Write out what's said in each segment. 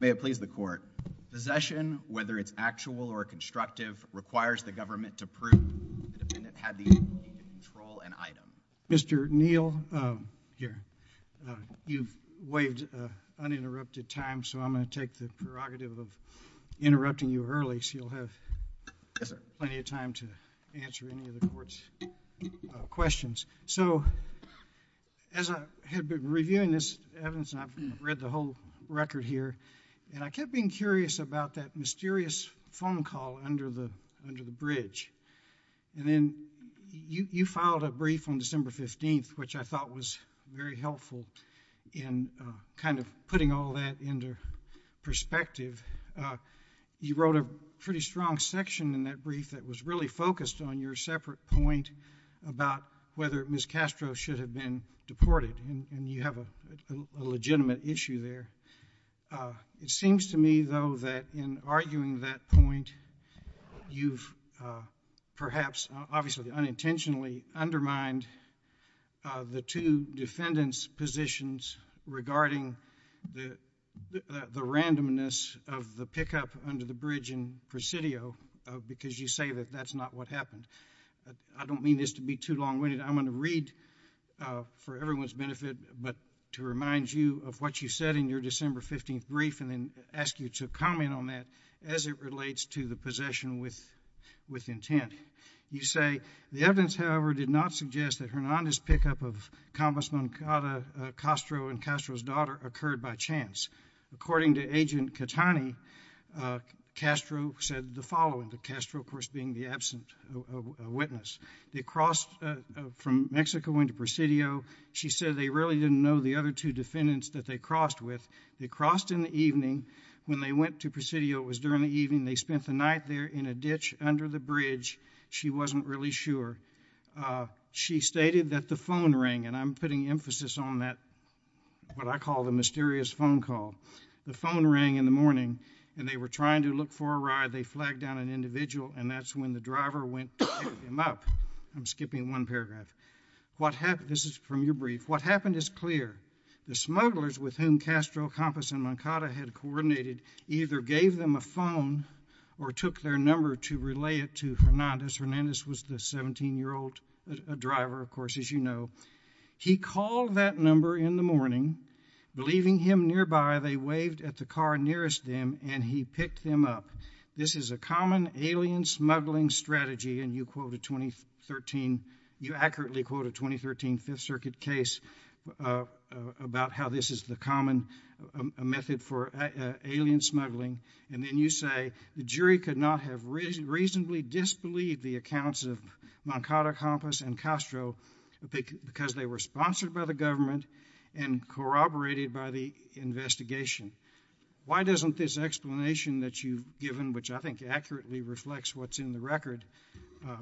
May it please the court. Possession, whether it's actual or constructive, requires the government to prove the defendant had the ability to control an item. Mr. Neal, you've waived uninterrupted time, so I'm going to take the prerogative of interrupting you early so you'll have plenty of time to answer any of the court's questions. So, as I had been reviewing this evidence, and I've read the whole record here, and I kept being curious about that mysterious phone call under the bridge, and then you filed a brief on December 15th, which I thought was very helpful in kind of putting all that into perspective. You wrote a pretty strong section in that brief that was really focused on your separate point about whether Ms. Castro should have been deported, and you have a legitimate issue there. It seems to me, though, that in arguing that point, you've perhaps obviously unintentionally undermined the two defendants' positions regarding the randomness of the pickup under the bridge in Presidio because you say that that's not what happened. I don't mean this to be too long-winded. I'm going to read for everyone's benefit but to remind you of what you said in your December 15th brief and then ask you to comment on that as it relates to the possession with intent. You say, the evidence, however, did not suggest that Hernandez's pickup of Convestment Cada Castro and Castro's daughter occurred by chance. According to Agent Catani, Castro said the following, Castro, of course, being the absent witness, they crossed from Mexico into Presidio. She said they really didn't know the other two defendants that they crossed with. They crossed in the evening. When they went to Presidio, it was during the evening. They spent the night there in a ditch under the bridge. She wasn't really sure. She stated that the phone rang, and I'm putting emphasis on that, what I call the mysterious phone call. The phone rang in the morning and they were trying to look for a ride. They flagged down an individual and that's when the driver went to pick them up. I'm skipping one paragraph. This is from your brief. What happened is clear. The smugglers with whom Castro, Campos, and Moncada had coordinated either gave them a phone or took their number to relay it to Hernandez. Hernandez was the 17-year-old driver, of course, as you know. He called that number in the morning. Believing him nearby, they waved at the car nearest them and he picked them up. This is the common alien smuggling strategy, and you accurately quote a 2013 Fifth Circuit case about how this is the common method for alien smuggling. Then you say, the jury could not have reasonably disbelieved the accounts of Moncada, Campos, and Castro because they were sponsored by the government and corroborated by the investigation. Why doesn't this explanation that you've given, which I think accurately reflects what's in the record,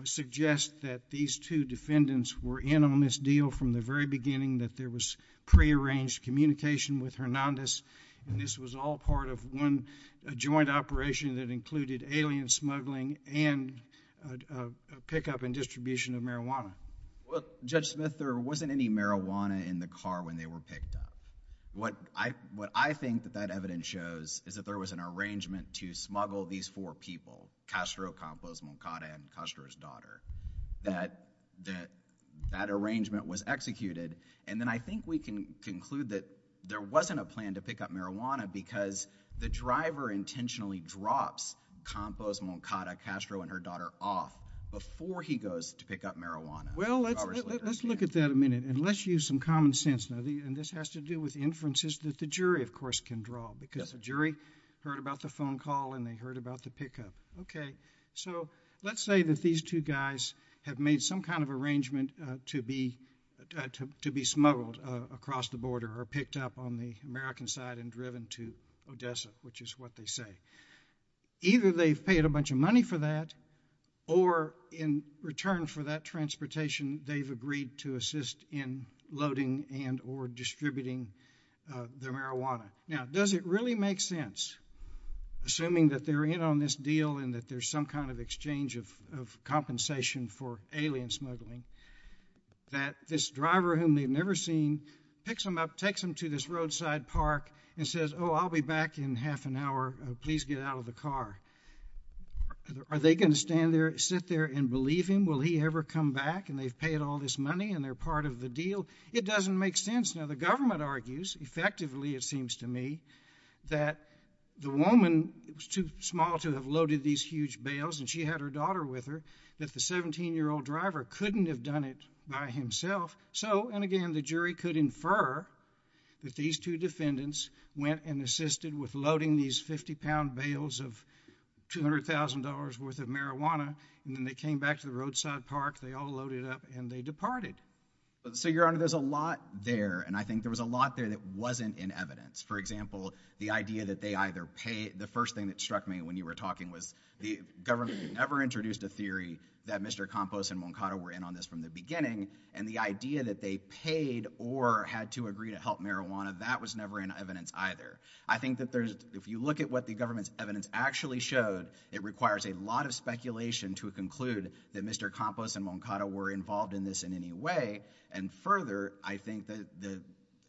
suggest that these two defendants were in on this deal from the very beginning, that there was prearranged communication with Hernandez, and this was all part of one joint operation that included alien smuggling and a pickup and distribution of marijuana? Well, Judge Smith, there wasn't any marijuana in the car when they were picked up. What I think that that evidence shows is that there was an arrangement to smuggle these four people, Castro, Campos, Moncada, and Castro's daughter, that that arrangement was executed. And then I think we can conclude that there wasn't a plan to pick up marijuana because the driver intentionally drops Campos, Moncada, Castro, and her daughter off before he goes to pick up marijuana. Well, let's look at that a minute, and let's use some common sense. Now, this has to do with inferences that the jury, of course, can draw because the jury heard about the phone call and they heard about the pickup. Okay. So let's say that these two guys have made some kind of arrangement to be smuggled across the border or picked up on the American side and driven to Odessa, which is what they say. Either they've paid a bunch of money for that, or in return for that transportation, they've agreed to assist in loading and or distributing the marijuana. Now, does it really make sense, assuming that they're in on this deal and that there's some kind of exchange of compensation for alien smuggling, that this driver, whom they've never seen, picks them up, takes them to this roadside park and says, oh, I'll be back in half an hour. Please get out of the car. Are they going to stand there, sit there and believe him? Will he ever come back? And they've paid all this money and they're part of the deal. It doesn't make sense. Now, the government argues, effectively, it seems to me, that the woman was too small to have loaded these huge bales and she had her daughter with her, that the 17-year-old driver couldn't have done it by himself. So, and again, the jury could infer that these two defendants went and assisted with loading these 50-pound bales of $200,000 worth of marijuana, and then they came back to the roadside park, they all loaded up, and they departed. So, Your Honor, there's a lot there, and I think there was a lot there that wasn't in evidence. For example, the idea that they either paid, the first thing that struck me when you were talking was the government never introduced a theory that Mr. Campos and Moncada were in on this from the beginning, and the idea that they paid or had to agree to help marijuana, that was never in evidence either. I think that there's, if you look at what the government's evidence actually showed, it requires a lot of speculation to conclude that Mr. Campos and Moncada were involved in this in any way, and further, I think that the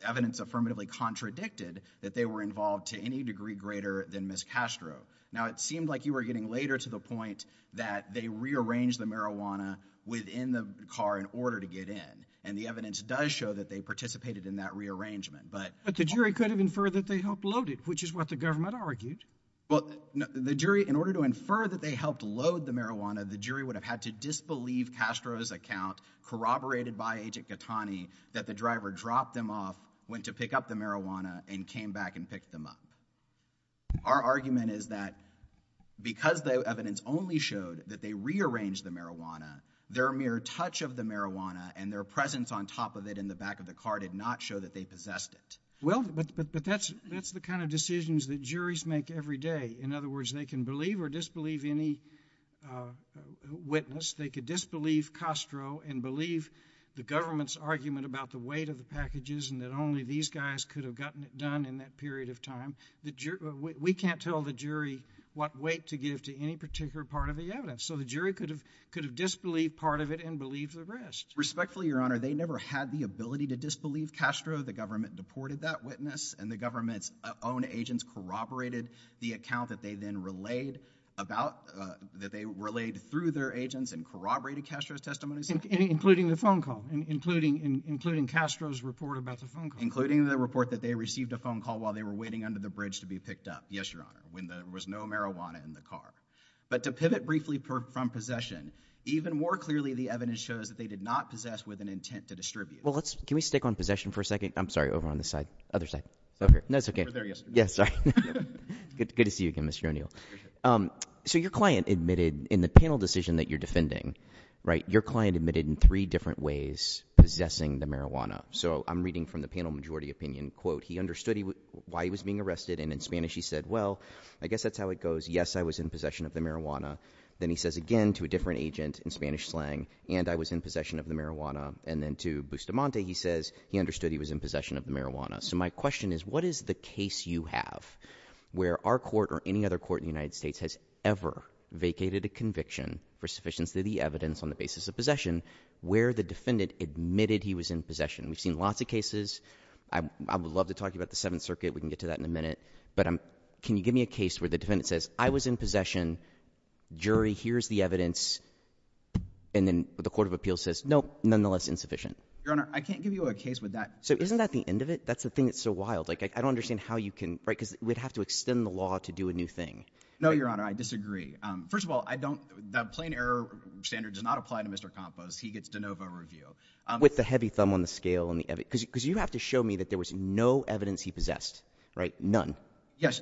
evidence affirmatively contradicted that they were involved to any degree greater than Ms. Castro. Now, it seemed like you were getting later to the point that they rearranged the marijuana within the car in order to get in, and the evidence does show that they participated in that rearrangement, but... But the jury could have inferred that they helped load the marijuana, the jury would have had to disbelieve Castro's account, corroborated by Agent Gattani, that the driver dropped them off, went to pick up the marijuana, and came back and picked them up. Our argument is that because the evidence only showed that they rearranged the marijuana, their mere touch of the marijuana and their presence on top of it in the back of the car did not show that they possessed it. Well, but that's the kind of decisions that juries make every day. In other words, they can believe or disbelieve any witness. They could disbelieve Castro and believe the government's argument about the weight of the packages and that only these guys could have gotten it done in that period of time. We can't tell the jury what weight to give to any particular part of the evidence, so the jury could have disbelieved part of it and believed the rest. Respectfully, Your Honor, they never had the ability to disbelieve Castro. The government deported that witness and the government's own agents corroborated the account that they then relayed through their agents and corroborated Castro's testimony. Including the phone call, including Castro's report about the phone call. Including the report that they received a phone call while they were waiting under the bridge to be picked up, yes, Your Honor, when there was no marijuana in the car. But to pivot briefly from possession, even more clearly the evidence shows that they did not possess with an intent to distribute. Well, let's, can we stick on possession for a second? I'm sorry, over on this side, other side, over here. No, it's okay. We were there yesterday. Yeah, sorry. Good to see you again, Mr. O'Neill. So your client admitted in the panel decision that you're defending, right, your client admitted in three different ways possessing the marijuana. So I'm reading from the panel majority opinion, quote, he understood why he was being arrested and in Spanish he said, well, I guess that's how it goes. Yes, I was in possession of the marijuana. Then he says again to a different agent in Spanish slang, and I was in possession of the marijuana. And then to Bustamante, he says he understood he was in possession of the marijuana. So my question is, what is the case you have where our court or any other court in the United States has ever vacated a conviction for sufficiency of the evidence on the basis of possession where the defendant admitted he was in possession? We've seen lots of cases. I would love to talk to you about the Seventh Circuit. We can get to that in a minute. But can you give me a case where the defendant says, I was in possession. Jury, here's the evidence. And then the Court of Appeals says, nope, nonetheless insufficient. Your Honor, I can't give you a case with that. So isn't that the end of it? That's the thing that's so wild. Like, I don't understand how you can write because we'd have to extend the law to do a new thing. No, Your Honor, I disagree. First of all, I don't that plain error standard does not apply to Mr. Campos. He gets de novo review with the heavy thumb on the scale and the evidence because you have to show me that there was no evidence he possessed, right? None. Yes.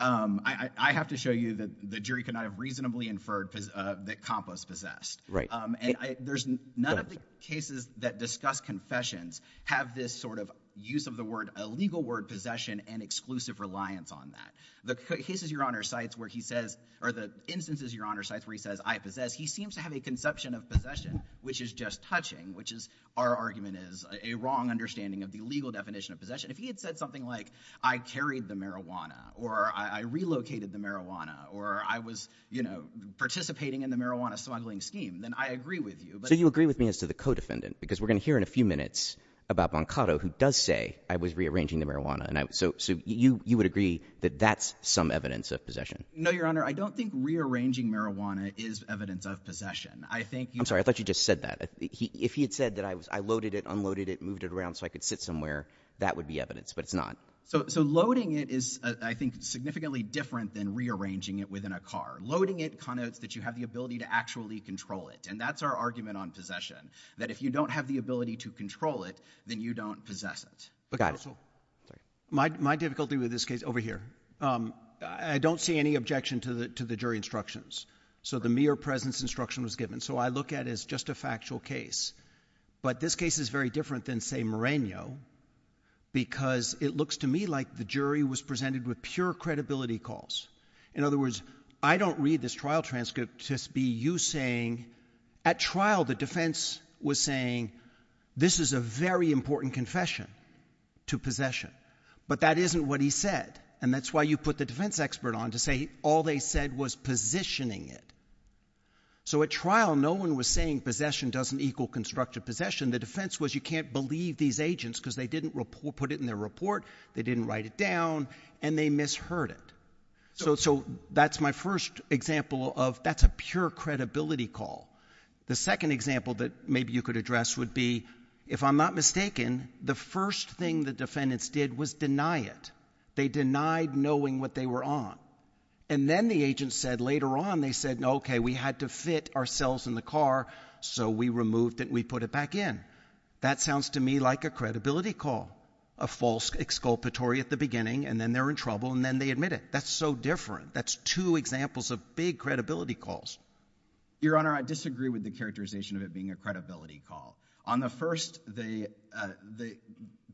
I have to show you that the jury cannot have reasonably inferred that Campos possessed. And there's none of the cases that discuss confessions have this sort of use of the word, a legal word, possession and exclusive reliance on that. The cases, Your Honor, cites where he says, or the instances, Your Honor, cites where he says, I possess, he seems to have a conception of possession, which is just touching, which is our argument is a wrong understanding of the legal definition of possession. If he had said something like, I carried the marijuana or I relocated the marijuana or I was, you know, participating in the marijuana smuggling scheme, then I agree with you. So you agree with me as to the co-defendant, because we're going to hear in a few minutes about Boncato, who does say I was rearranging the marijuana. And so you would agree that that's some evidence of possession. No, Your Honor, I don't think rearranging marijuana is evidence of possession. I'm sorry, I thought you just said that. If he had said that I was, I loaded it, unloaded it, moved it around so I could sit somewhere, that would be evidence, but it's not. So loading it is, I think, significantly different than rearranging it within a car. Loading it connotes that you have the ability to actually control it. And that's our argument on possession, that if you don't have the ability to control it, then you don't possess it. My difficulty with this case over here, I don't see any objection to the jury instructions. So the mere presence instruction was given. So I look at it as just a factual case. But this case is very different than, say, Moreno, because it looks to me like the jury was presented with pure credibility calls. In other words, I don't read this trial transcript to be you saying, at trial the defense was saying, this is a very important confession to possession. But that isn't what he said. And that's why you put the defense expert on to say all they said was positioning it. So at trial, no one was saying possession doesn't equal constructive possession. The defense was, you can't believe these agents because they didn't put it in their report, they didn't write it down, and they misheard it. So that's my first example of, that's a pure credibility call. The second example that maybe you could address would be, if I'm not mistaken, the on. And then the agent said later on, they said, OK, we had to fit ourselves in the car, so we removed it and we put it back in. That sounds to me like a credibility call, a false exculpatory at the beginning, and then they're in trouble, and then they admit it. That's so different. That's two examples of big credibility calls. Your Honor, I disagree with the characterization of it being a credibility call. On the first, the, uh, the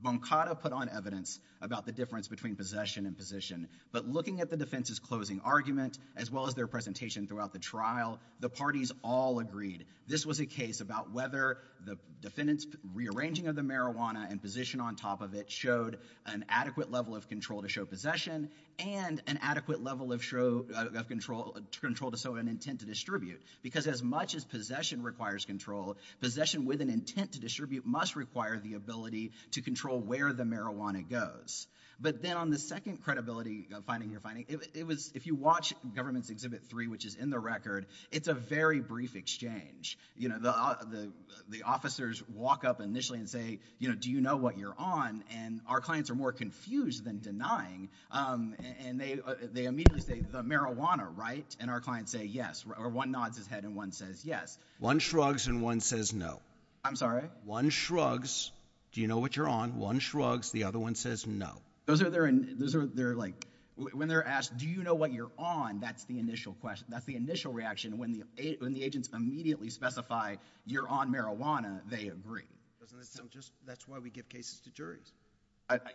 Boncato put on evidence about the difference between possession and position. But looking at the defense's closing argument, as well as their presentation throughout the trial, the parties all agreed this was a case about whether the defendant's rearranging of the marijuana and position on top of it showed an adequate level of control to show possession and an adequate level of show, uh, of control to show an intent to distribute. Because as much as possession requires control, possession with an intent to distribute must require the ability to control where the marijuana goes. But then on the second credibility finding you're finding, it was, if you watch Government's Exhibit 3, which is in the record, it's a very brief exchange. You know, the, the, the officers walk up initially and say, you know, do you know what you're on? And our clients are more confused than denying, um, and they, uh, they immediately say the marijuana, right? And our clients say yes, or one nods his head and one says yes. One shrugs and one says no. I'm sorry? One shrugs, do you know what you're on? One shrugs, the other one says no. Those are, they're, those are, they're like, when they're asked, do you know what you're on? That's the initial question. That's the initial reaction. When the, when the agents immediately specify you're on marijuana, they agree. So that's just, that's why we give cases to juries.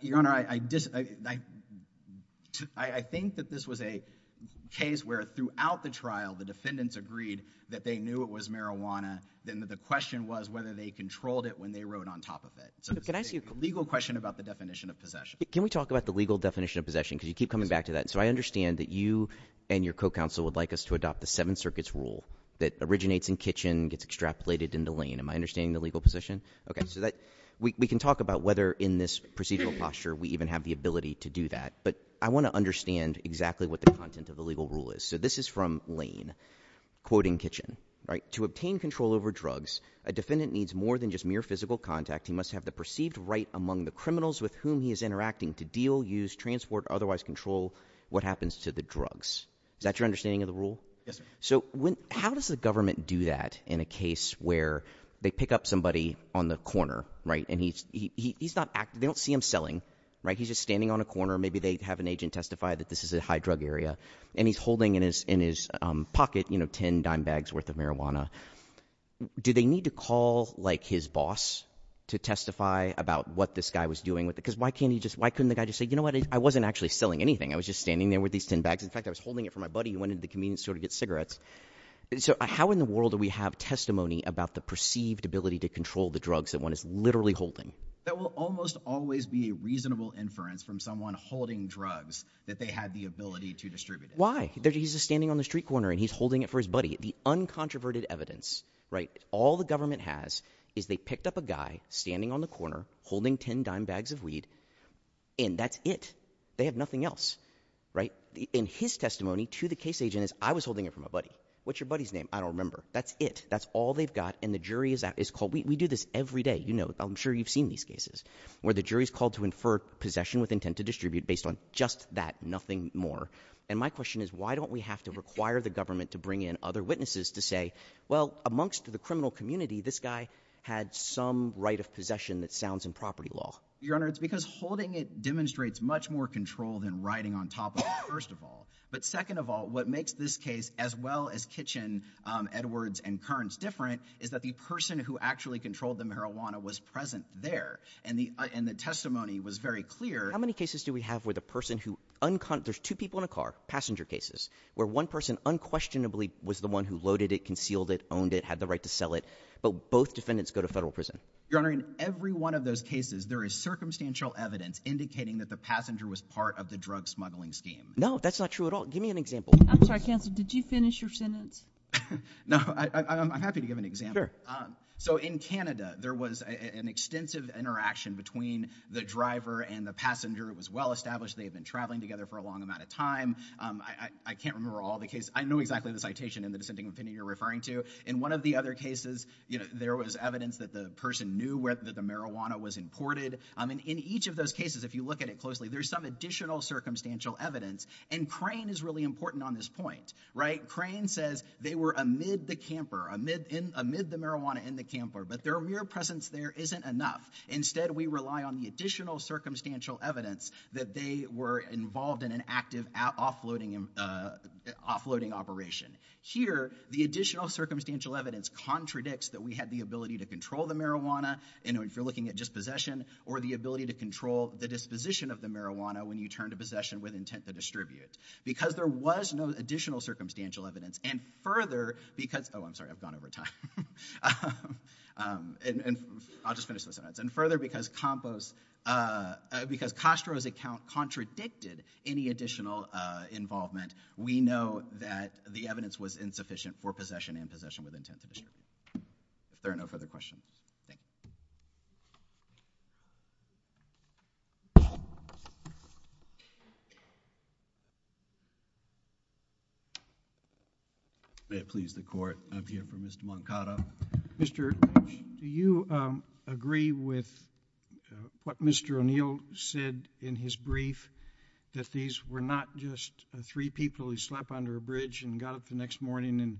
Your Honor, I, I, I, I think that this was a case where throughout the trial the defendants agreed that they knew it was marijuana. Then the question was whether they controlled it when they wrote on top of it. So can I ask you a legal question about the definition of possession? Can we talk about the legal definition of possession? Cause you keep coming back to that. So I understand that you and your co-counsel would like us to adopt the seven circuits rule that originates in kitchen, gets extrapolated into lane. Am I understanding the legal position? Okay. So that we can talk about whether in this procedural posture we even have the ability to do that, but I want to understand exactly what the content of the legal rule is. So this is from lane, quoting kitchen, right? To obtain control over drugs, a defendant needs more than just mere physical contact. He must have the perceived right among the criminals with whom he is interacting to deal, use, transport, otherwise control what happens to the drugs. Is that your understanding of the rule? Yes, sir. So when, how does the government do that in a case where they pick up somebody on the corner, right? And he's, he, he, he's not acting, they don't see him selling, right? He's just standing on a corner. Maybe they have an agent testify that this is a high drug area and he's holding in his, in his pocket, you know, 10 dime bags worth of marijuana. Do they need to call like his boss to testify about what this guy was doing with it? Because why can't he just, why couldn't the guy just say, you know what? I wasn't actually selling anything. I was just standing there with these 10 bags. In fact, I was holding it for my buddy who went into the convenience store to get cigarettes. So how in the world do we have testimony about the perceived ability to control the drugs that one is literally holding? That will almost always be a reasonable inference from someone holding drugs that they had the ability to distribute. Why? He's just standing on the street corner and he's holding it for his buddy. The uncontroverted evidence, right? All the government has is they picked up a guy standing on the corner holding 10 dime bags of weed and that's it. They have nothing else, right? In his testimony to the case agent is I was holding it from a buddy. What's your buddy's name? I don't remember. That's it. That's all they've got. And the jury is at, is called, we do this every day. You know, I'm sure you've seen these cases where the jury is called to infer possession with intent to distribute based on just that, nothing more. And my question is why don't we have to require the government to bring in other witnesses to say, well, amongst the criminal community, this guy had some right of possession that sounds in property law. Your Honor, it's because holding it demonstrates much more control than writing on top of it, first of all. But second of all, what makes this case as well as Kitchen, um, Edwards and Kearns different is that the person who actually controlled the marijuana was present there. And the, and the testimony was very clear. How many cases do we have where the person who unconscious, there's two people in a car passenger cases where one person unquestionably was the one who loaded it, concealed it, owned it, had the right to sell it. But both defendants go to federal prison. Your Honor, in every one of those cases, there is circumstantial evidence indicating that the passenger was part of the drug smuggling scheme. No, that's not true at all. Give me an example. I'm sorry, counsel, did you finish your sentence? No, I'm happy to give an example. Um, so in Canada there was an extensive interaction between the driver and the passenger. It was well established. They had been traveling together for a long amount of time. Um, I, I can't remember all the cases. I know exactly the citation in the dissenting opinion you're referring to. In one of the other cases, you know, there was evidence that the person knew where the marijuana was imported. Um, and in each of those cases, if you look at it closely, there's some additional circumstantial evidence and Crane is really important on this point, right? Crane says they were amid the camper, amid, amid the marijuana in the camper, but their mere presence there isn't enough. Instead, we rely on the additional circumstantial evidence that they were involved in an active offloading, uh, offloading operation. Here, the additional circumstantial evidence contradicts that we had the ability to control the marijuana. And if you're looking at dispossession or the ability to control the disposition of the marijuana when you turn to possession with intent to distribute, because there was no additional circumstantial evidence and further because, oh, I'm sorry, I've gone over time. Um, and, and I'll just finish this sentence. And further because compost, uh, because Castro's account contradicted any additional, uh, involvement, we know that the evidence was insufficient for possession and possession with intent to distribute. If there are no further questions. Thank you. May it please the court. I'm here for Mr. Moncada. Mr. Do you, um, agree with, uh, what Mr. O'Neill said in his brief that these were not just three people who slept under a bridge and got up the next morning and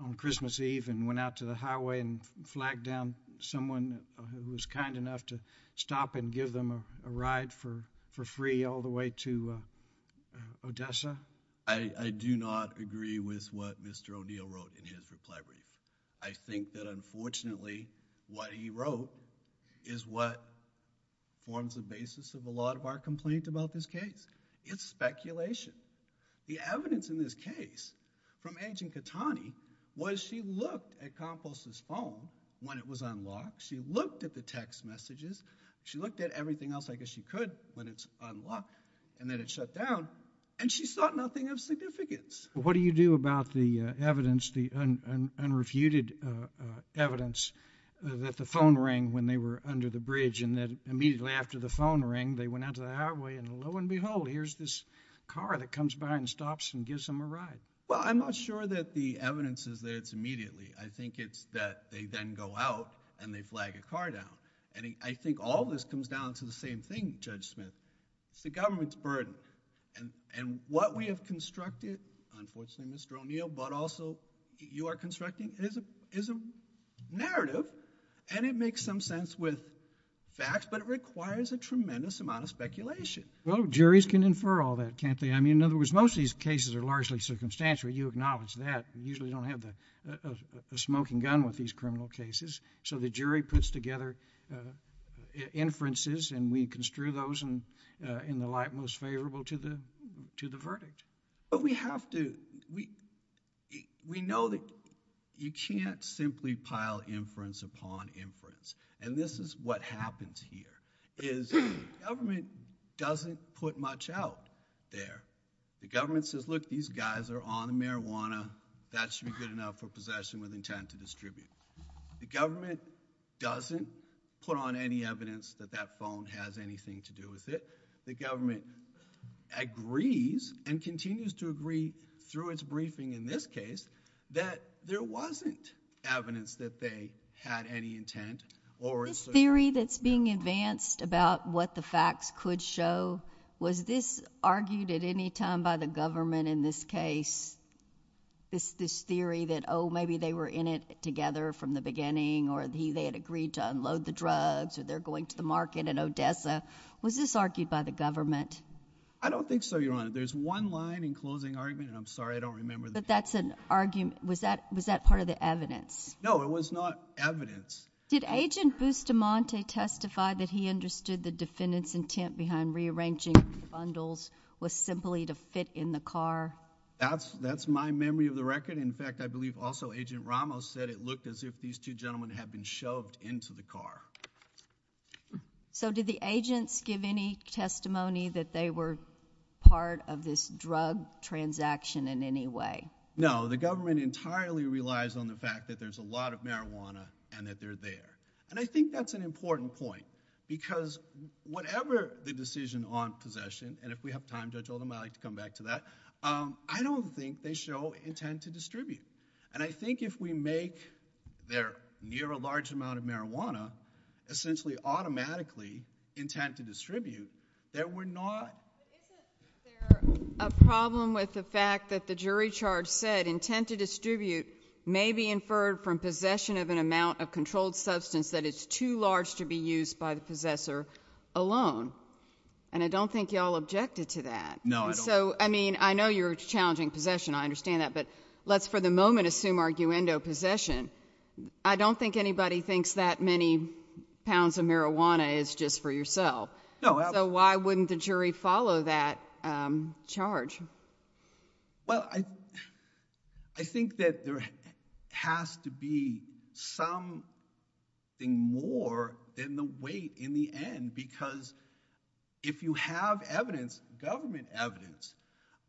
on Christmas Eve and went out to the highway and flagged down someone who was kind enough to stop and give them a ride for, for free all the way to, uh, uh, Odessa? I, I do not agree with what Mr. O'Neill wrote in his reply brief. I think that unfortunately what he wrote is what forms the basis of a lot of our complaint about this case. It's speculation. The evidence in this case from Agent Catani was she looked at compost's phone when it was unlocked. She looked at the text messages. She looked at everything else. I guess she could, but it's unlocked and then it shut down and she thought nothing of significance. What do you do about the evidence, the unrefuted, uh, uh, evidence that the phone rang when they were under the bridge and then immediately after the phone rang, they went out to the highway and lo and behold, here's this car that comes by and stops and gives them a ride. Well, I'm not sure that the evidence is that it's immediately. I think it's that they then go out and they flag a car down. And I think all of this comes down to the same thing, Judge Smith. It's the government's burden. And, and what we have constructed, unfortunately, Mr. O'Neill, but also you are constructing is a, is a narrative and it makes some sense with facts, but it requires a tremendous amount of speculation. Well, juries can infer all that, can't they? I mean, in other words, most of these cases are largely circumstantial. You acknowledge that. You usually don't have the, uh, uh, the smoking gun with these criminal cases. So the jury puts together, uh, uh, inferences and we construe those and, uh, in the light most favorable to the, to the verdict. But we have to, we, we know that you can't simply pile inference upon inference. And this is what happens here is government doesn't put much out there. The government says, look, these guys are on the marijuana. That should be good enough for possession with intent to distribute. The government doesn't put on any evidence that that phone has anything to do with it. The government agrees and continues to agree through its briefing in this case that there wasn't evidence that they had any intent or... This theory that's being advanced about what the facts could show, was this argued at any time by the government in this case? This, this theory that, oh, maybe they were in it together from the beginning or he, they had agreed to unload the drugs or they're going to the market in Odessa. Was this argued by the government? I don't think so, Your Honor. There's one line in closing argument, and I'm sorry, I don't remember the... But that's an argument. Was that, was that part of the evidence? No, it was not evidence. Did Agent Bustamante testify that he understood the defendant's intent behind rearranging the bundles was simply to fit in the car? That's, that's my memory of the record. In fact, I believe also Agent Ramos said it looked as if these two gentlemen had been shoved into the car. So did the agents give any testimony that they were part of this drug transaction in any way? No, the government entirely relies on the fact that there's a lot of marijuana and that they're there. And I think that's an And if we have time, Judge Oldham, I'd like to come back to that. I don't think they show intent to distribute. And I think if we make there near a large amount of marijuana, essentially automatically intent to distribute, that we're not... Isn't there a problem with the fact that the jury charge said intent to distribute may be inferred from possession of an amount of controlled substance that is too large to be used by the possessor alone? And I don't think y'all objected to that. No, I don't. And so, I mean, I know you're challenging possession. I understand that. But let's for the moment assume arguendo possession. I don't think anybody thinks that many pounds of marijuana is just for yourself. No, I... So why wouldn't the jury follow that charge? Well, I think that there has to be something more than the weight in the end. Because if you have evidence, government evidence,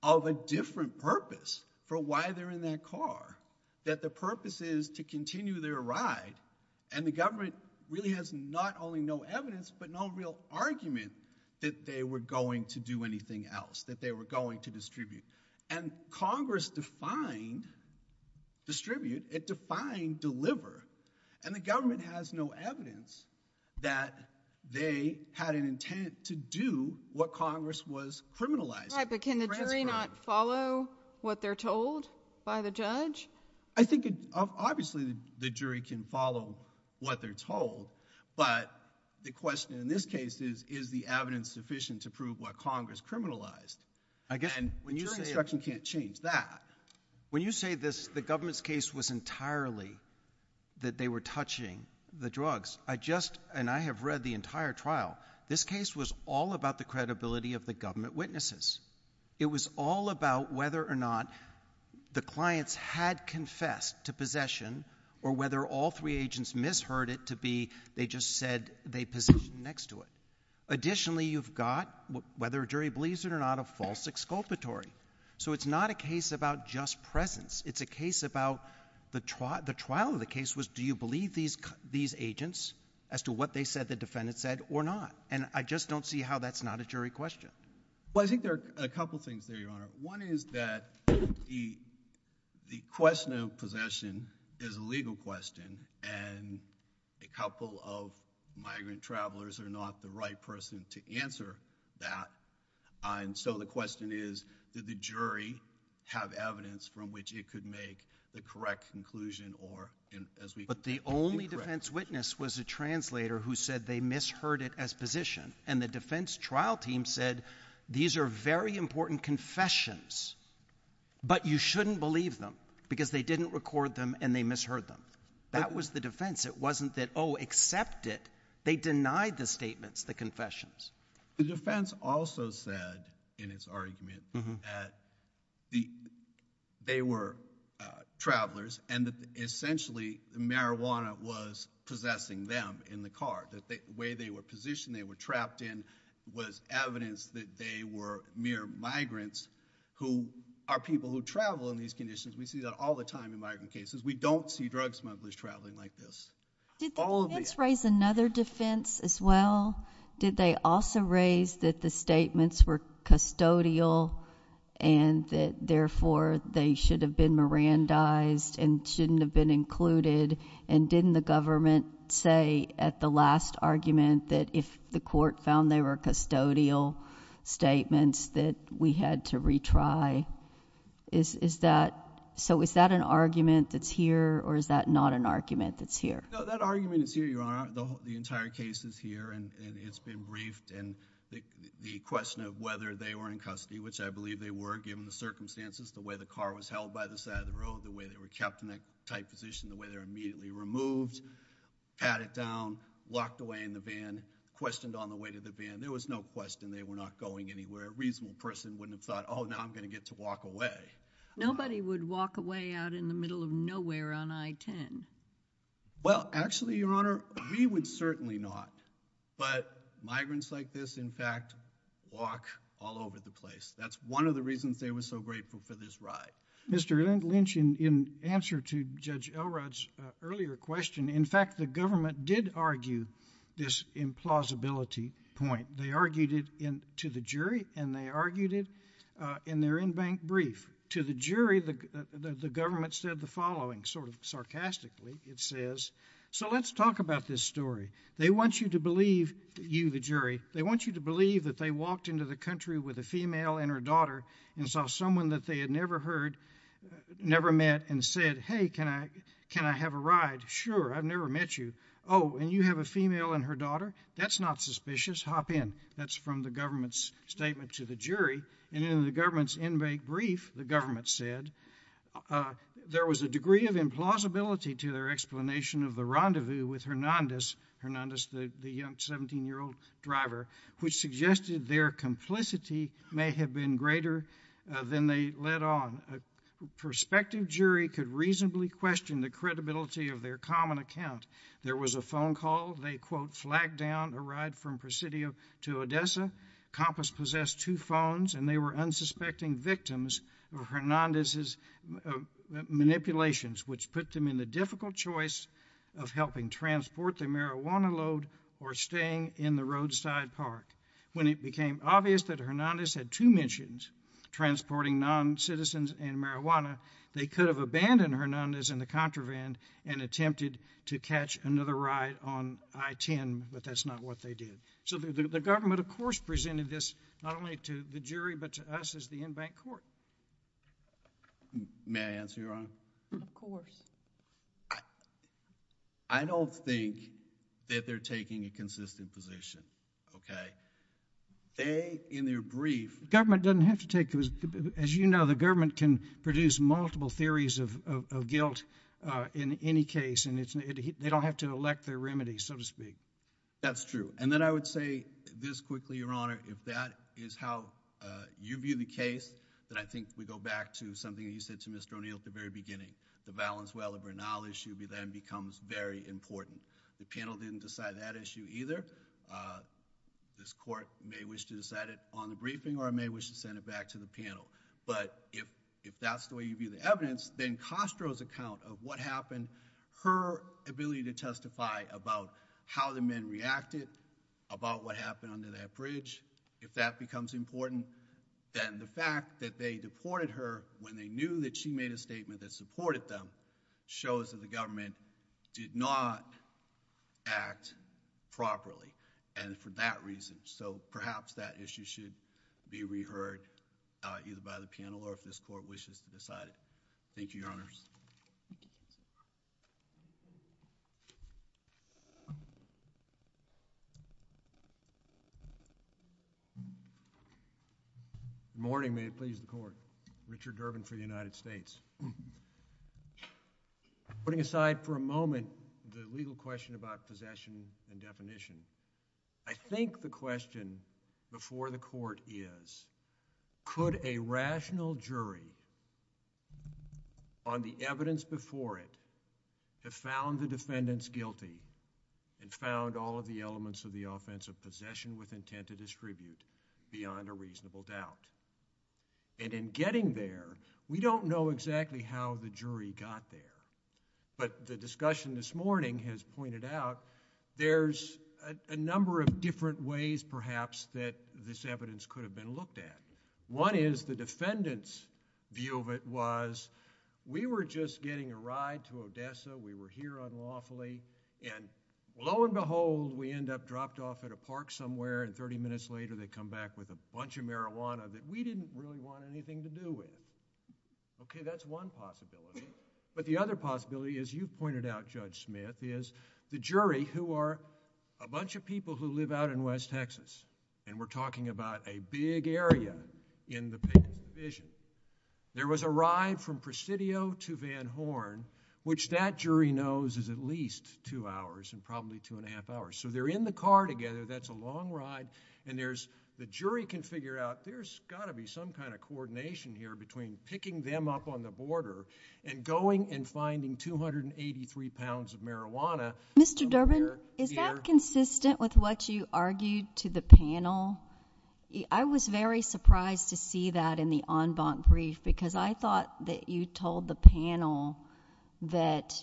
of a different purpose for why they're in that car, that the purpose is to continue their ride. And the government really has not only no evidence, but no real argument that they were going to do anything else, that they were going to distribute. And Congress defined distribute. It defined deliver. And the government has no evidence that they had an intent to do what Congress was criminalizing. Right, but can the jury not follow what they're told by the judge? I think, obviously, the jury can follow what they're told. But the question in this case is, is the evidence sufficient to prove what Congress criminalized? And the jury's instruction can't change that. When you say this, the government's case was entirely that they were touching the drugs. I just... and I have read the entire trial. This case was all about the credibility of the government witnesses. It was all about whether or not the clients had confessed to possession or whether all three agents misheard it to be they just said they positioned next to it. Additionally, you've got whether a jury believes it or not, a false exculpatory. So it's not a case about just presence. It's a case about... the trial of the case was, do you believe these agents as to what they said the defendant said or not? And I just don't see how that's not a jury question. Well, I think there are a couple things there, Your Honor. One is that the question of possession is a legal question, and a couple of migrant travelers are not the right person to answer that. And so the question is, did the jury have evidence from which it could make the correct conclusion or... But the only defense witness was a translator who said they misheard it as position. And the defense trial team said, these are very important confessions, but you shouldn't believe them because they didn't record them and they misheard them. That was the defense. It wasn't that, oh, accept it. They denied the statements, the confessions. The defense also said in its argument that they were travelers and that essentially marijuana was possessing them in the car, that the way they were positioned, they were trapped in, was evidence that they were mere migrants who are people who travel in these conditions. We see that all the time in migrant cases. We don't see drug smugglers traveling like this. Did the defense raise another defense as well? Did they also raise that the statements were custodial and that therefore they should have been Mirandized and shouldn't have been included? And didn't the government say at the last argument that if the court found they were custodial statements that we had to retry? Is that... so is that an argument that's here or is that not an argument that's here? No, that argument is here, Your Honor. The entire case is here and it's been briefed and the question of whether they were in custody, which I believe they were given the circumstances, the way the car was held by the side of the road, the way they were kept in a tight position, the way they were immediately removed, patted down, locked away in the van, questioned on the way to the van. There was no question they were not going anywhere. A reasonable person wouldn't have thought, oh, now I'm going to get to walk away. Nobody would walk away out in the middle of nowhere on I-10. Well, actually, Your Honor, we would certainly not. But migrants like this, in fact, walk all over the place. That's one of the reasons they were so grateful for this ride. Mr. Lynch, in answer to Judge Elrod's earlier question, in fact, the government did argue this implausibility point. They argued it to the jury and they argued it in their in-bank brief. To the jury, the government said the following, sort of sarcastically, it says, so let's talk about this story. They want you to believe... you, the jury. They want you to believe that they walked into the country with a female and her daughter and saw someone that they had never heard, never met, and said, hey, can I have a ride? Sure, I've never met you. Oh, and you have a female and her daughter? That's not suspicious. Hop in. That's from the government's statement to the jury. And in the government's in-bank brief, the government said, there was a degree of implausibility to their explanation of the rendezvous with Hernandez, Hernandez, the young 17-year-old driver, which suggested their complicity may have been greater than they let on. A prospective jury could reasonably question the credibility of their common account. There was a phone call. They, quote, flagged down a ride from Presidio to Odessa. Compass possessed two phones and they were unsuspecting victims of Hernandez's manipulations, which put them in the difficult choice of helping transport the marijuana load or staying in the roadside park. When it became obvious that Hernandez had two missions, transporting non-citizens and marijuana, they could have abandoned Hernandez in the contraband and attempted to catch another ride on I-10, but that's not what they did. So the government, of course, presented this not only to the jury, but to us as the in-bank court. May I answer, Your Honor? Of course. I don't think that they're taking a consistent position, okay? They, in their brief... Government doesn't have to take... As you know, the government can produce multiple theories of guilt in any case, and they don't have to elect their remedy, so to speak. That's true. And then I would say this quickly, Your Honor, if that is how you view the case, then I think we go back to something that you said to Mr. O'Neill at the very beginning. The Valenzuela-Bernal issue then becomes very important. The panel didn't decide that issue either. This court may wish to decide it on the briefing or it may wish to send it back to the panel. But if that's the way you view the evidence, then Castro's account of what happened, her ability to testify about how the men reacted, about what happened under that bridge, if that becomes important, then the fact that they deported her when they knew that she made a statement that supported them shows that the government did not act properly, and for that reason. So perhaps that issue should be reheard either by the panel or if this court wishes to decide it. Thank you, Your Honors. Good morning. May it please the Court. Richard Durbin for the United States. Putting aside for a moment the legal question about possession and definition, I think the question before the Court is, could a rational jury on the evidence before it have found the defendants guilty and found all of the elements of the offense of possession with the defendant? I think that's a very important question. I think that's exactly how the jury got there, but the discussion this morning has pointed out there's a number of different ways perhaps that this evidence could have been looked at. One is the defendant's view of it was, we were just getting a ride to Odessa, we were here unlawfully, and lo and behold, we end up dropped off at a park somewhere, and thirty minutes later they come back with one possibility. But the other possibility, as you pointed out, Judge Smith, is the jury who are a bunch of people who live out in West Texas, and we're talking about a big area in the Payton Division. There was a ride from Presidio to Van Horn, which that jury knows is at least two hours and probably two and a half hours. So they're in the car together, that's a long ride, and the jury can figure out there's got to be some kind of coordination here between picking them up on the border and going and finding 283 pounds of marijuana... Mr. Durbin, is that consistent with what you argued to the panel? I was very surprised to see that in the en banc brief because I thought that you told the panel that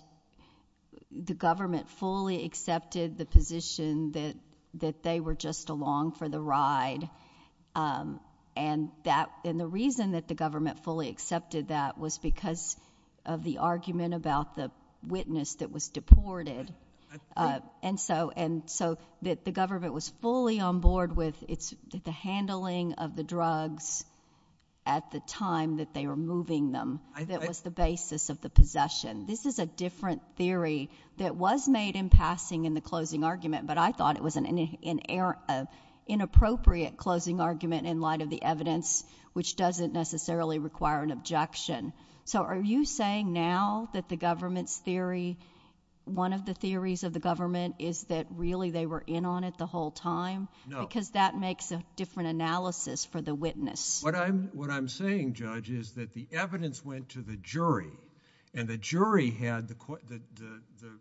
the government fully accepted the position that they were just along for the ride, and the reason that the government fully accepted that was because of the argument about the witness that was deported. And so the government was fully on board with the handling of the drugs at the time that they were moving them. That was the basis of the possession. This is a different theory that was made in passing in the closing argument, but I thought it was an inappropriate closing argument in light of the evidence, which doesn't necessarily require an objection. So are you saying now that the government's theory... one of the theories of the government is that really they were in on it the whole time? No. Because that makes a different analysis for the witness. What I'm saying, Judge, is that the evidence went to the jury, and the jury had the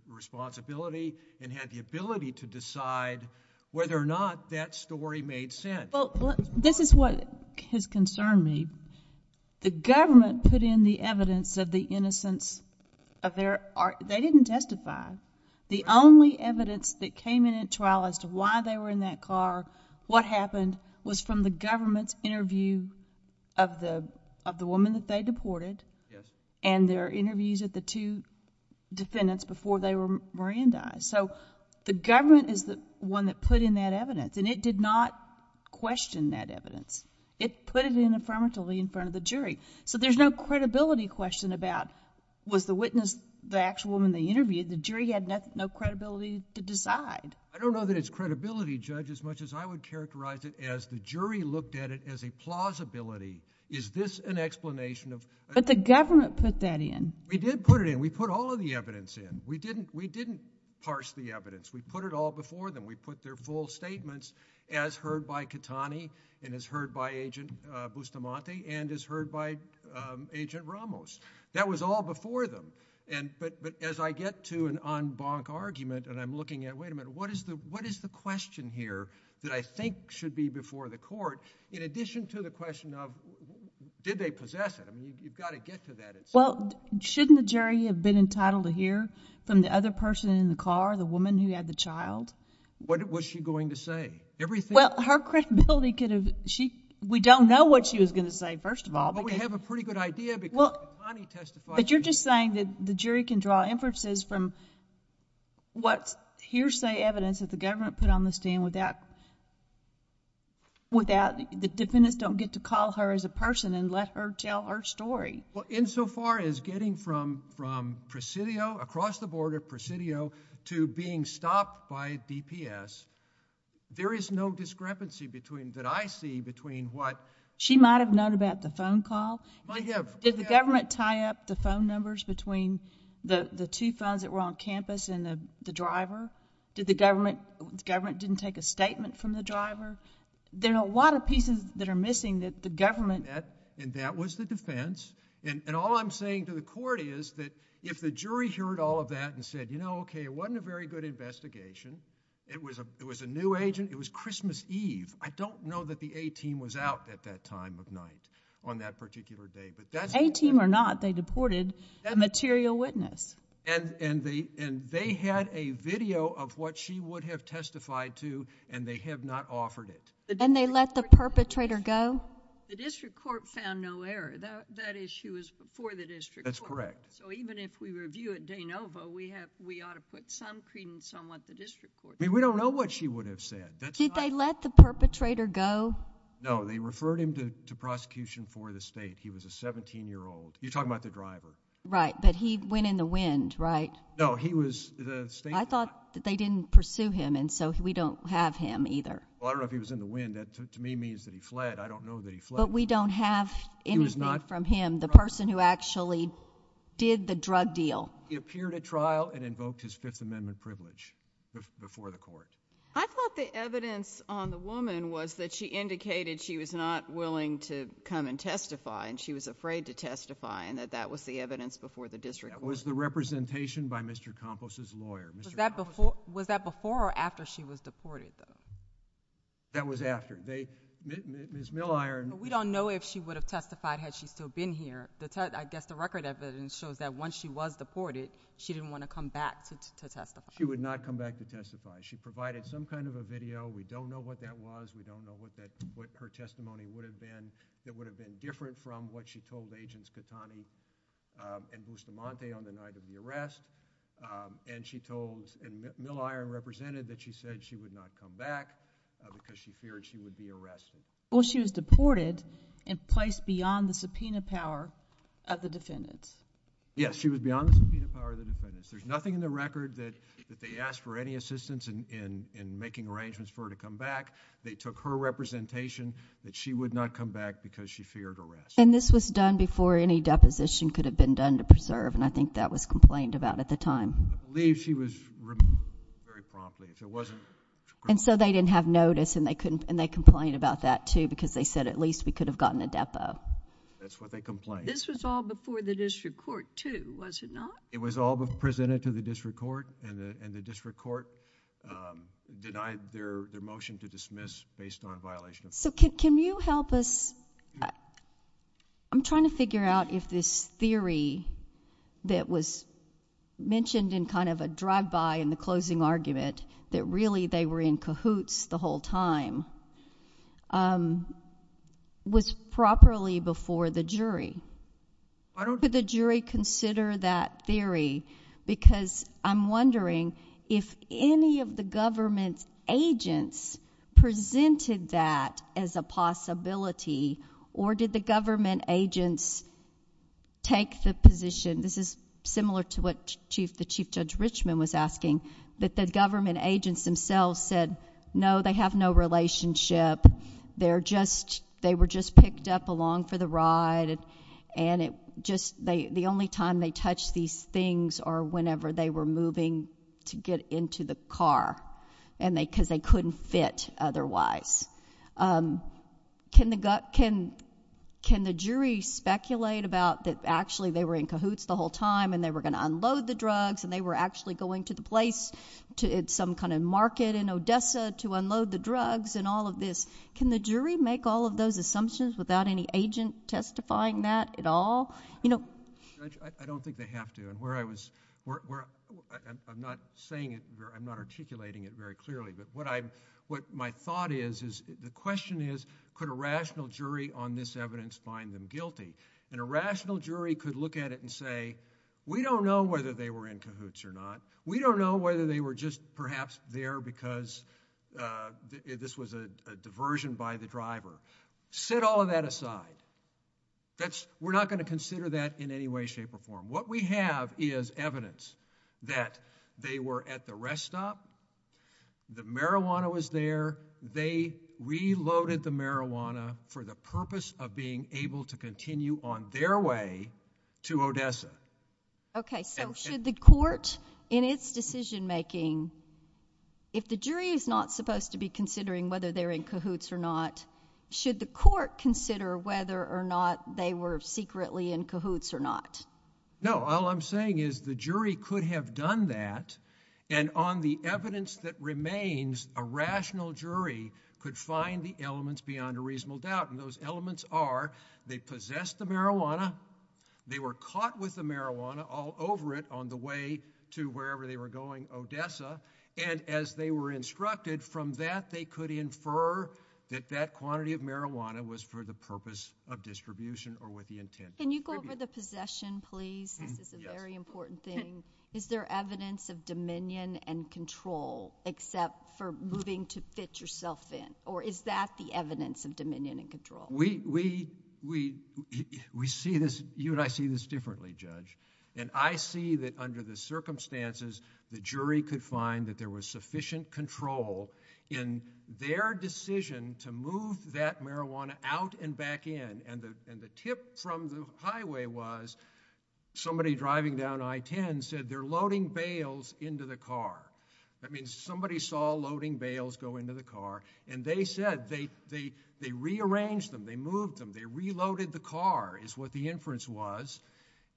responsibility and had the ability to decide whether or not that story made sense. This is what has concerned me. The government put in the evidence of the innocence of their... they didn't testify. The only evidence that came in at trial as to why they were in that car, what happened, was from the government's interview of the woman that they deported, and their interviews with the two defendants before they were merandized. So the government is the one that put in that evidence, and it did not question that evidence. It put it in affirmatively in front of the jury. So there's no credibility question about, was the witness the actual woman they interviewed? The jury had no credibility to decide. I don't know that it's credibility, Judge, as much as I would characterize it as the jury looked at it as a plausibility. Is this an explanation of... But the government put that in. We did put it in. We put all of the evidence in. We didn't parse the evidence. We put it all before them. We put their full statements as heard by Catani and as heard by Agent Bustamante and as heard by Agent Ramos. That was all before them. But as I get to an en banc argument, and I'm looking at, wait a minute, what is the question here that I think should be before the court, in addition to the question of did they possess it? I mean, you've got to get to that at some... Well, shouldn't the jury have been entitled to hear from the other person in the car, the woman who had the child? What was she going to say? Everything... Well, her credibility could have... We don't know what she was going to say, first of all, because... Well, we have a pretty good idea because Catani testified... But you're just saying that the jury can draw inferences from what's hearsay evidence that the government put on the stand without... the defendants don't get to call her as a person and let her tell her story. Well, insofar as getting from Presidio, across the border, Presidio, to being stopped by DPS, there is no discrepancy that I see between what... She might have known about the phone call. Might have. Did the government tie up the phone numbers between the two phones that were on campus and the driver? Did the government... the government didn't take a statement from the driver? There are a lot of pieces that are missing that the government... And that was the defense. And all I'm saying to the court is that if the jury heard all of that and said, you know, okay, it wasn't a very good investigation. It was a new agent. It was Christmas Eve. I don't know that the A-team was out at that time of night on that particular day. A-team or not, they deported a material witness. And they had a video of what she would have testified to, and they have not offered it. And they let the perpetrator go? The district court found no error. That issue was before the district court. That's correct. So even if we review it de novo, we ought to put some credence on what the district court... I mean, we don't know what she would have said. Did they let the perpetrator go? No, they referred him to prosecution for the state. He was a seventeen-year-old. You're talking about the driver. Right, but he went in the wind, right? No, he was... I thought that they didn't pursue him, and so we don't have him either. Well, I don't know if he was in the wind. That to me means that he fled. I don't know that he fled. But we don't have anything from him, the person who actually did the drug deal. He appeared at trial and invoked his Fifth Amendment privilege before the court. I thought the evidence on the woman was that she indicated she was not willing to come and testify, and she was afraid to testify, and that that was the evidence before the district court. That was the representation by Mr. Campos's lawyer. Was that before or after she was deported, though? That was after. They... Ms. Milliron... But we don't know if she would have testified had she still been here. I guess the record evidence shows that once she was deported, she didn't want to come back to testify. She would not come back to testify. She provided some kind of a video. We don't know what that was. We don't know what her testimony would have been that would have been different from what she told Agents Catani and Bustamante on the night of the arrest. And she told... and Milliron represented that she said she would not come back because she feared she would be arrested. Well, she was deported and placed beyond the subpoena power of the defendants. Yes, she was beyond the subpoena power of the defendants. There's nothing in the record that they asked for any assistance in making arrangements for her to come back. They took her representation that she would not come back because she feared arrest. And this was done before any deposition could have been done to preserve, and I think that was complained about at the time. I believe she was removed very promptly. And so they didn't have notice, and they complained about that, too, because they said at least we could have gotten a depo. That's what they complained. This was all before the district court, too, was it not? It was all presented to the district court, and the district court denied their motion to dismiss based on violation of... So can you help us? I'm trying to figure out if this theory that was mentioned in kind of a drive-by in the closing argument, that really they were in cahoots the whole time, was properly before the jury. I don't... Can we reconsider that theory? Because I'm wondering if any of the government's agents presented that as a possibility, or did the government agents take the position... This is similar to what the Chief Judge Richman was asking, that the government agents themselves said, no, they have no relationship, they were just picked up along for the ride, and it just... the only time they touched these things are whenever they were moving to get into the car, because they couldn't fit otherwise. Can the jury speculate about that actually they were in cahoots the whole time, and they were going to unload the drugs, and they were actually going to the place, some kind of market in Odessa, to unload the drugs, and all of this? Can the jury make all of those assumptions without any agent testifying that at all? You know... Judge, I don't think they have to, and where I was... I'm not saying it... I'm not articulating it very clearly, but what my thought is, is the question is, could a rational jury on this evidence find them guilty? And a rational jury could look at it and say, we don't know whether they were in cahoots or not. We don't know whether they were just perhaps there because this was a diversion by the driver. Set all of that aside. We're not going to consider that in any way, shape, or form. What we have is evidence that they were at the rest stop, the marijuana was there, they reloaded the marijuana for the purpose of being able to continue on their way to Odessa. Okay. So should the court, in its decision making, if the jury is not supposed to be considering whether they're in cahoots or not, should the court consider whether or not they were secretly in cahoots or not? No. All I'm saying is the jury could have done that, and on the evidence that remains, a rational jury could find the elements beyond a reasonable doubt, and those elements are They possessed the marijuana. They were caught with the marijuana all over it on the way to wherever they were going, Odessa. And as they were instructed from that, they could infer that that quantity of marijuana was for the purpose of distribution or with the intent of tribute. Can you go over the possession, please? This is a very important thing. Is there evidence of dominion and control except for moving to fit yourself in? Or is that the evidence of dominion and control? We see this... you and I see this differently, Judge. And I see that under the circumstances, the jury could find that there was sufficient control in their decision to move that marijuana out and back in. And the tip from the highway was, somebody driving down I-10 said, they're loading bales into the car. That means somebody saw loading bales go into the car, and they said... they rearranged them, they moved them, they reloaded the car is what the inference was.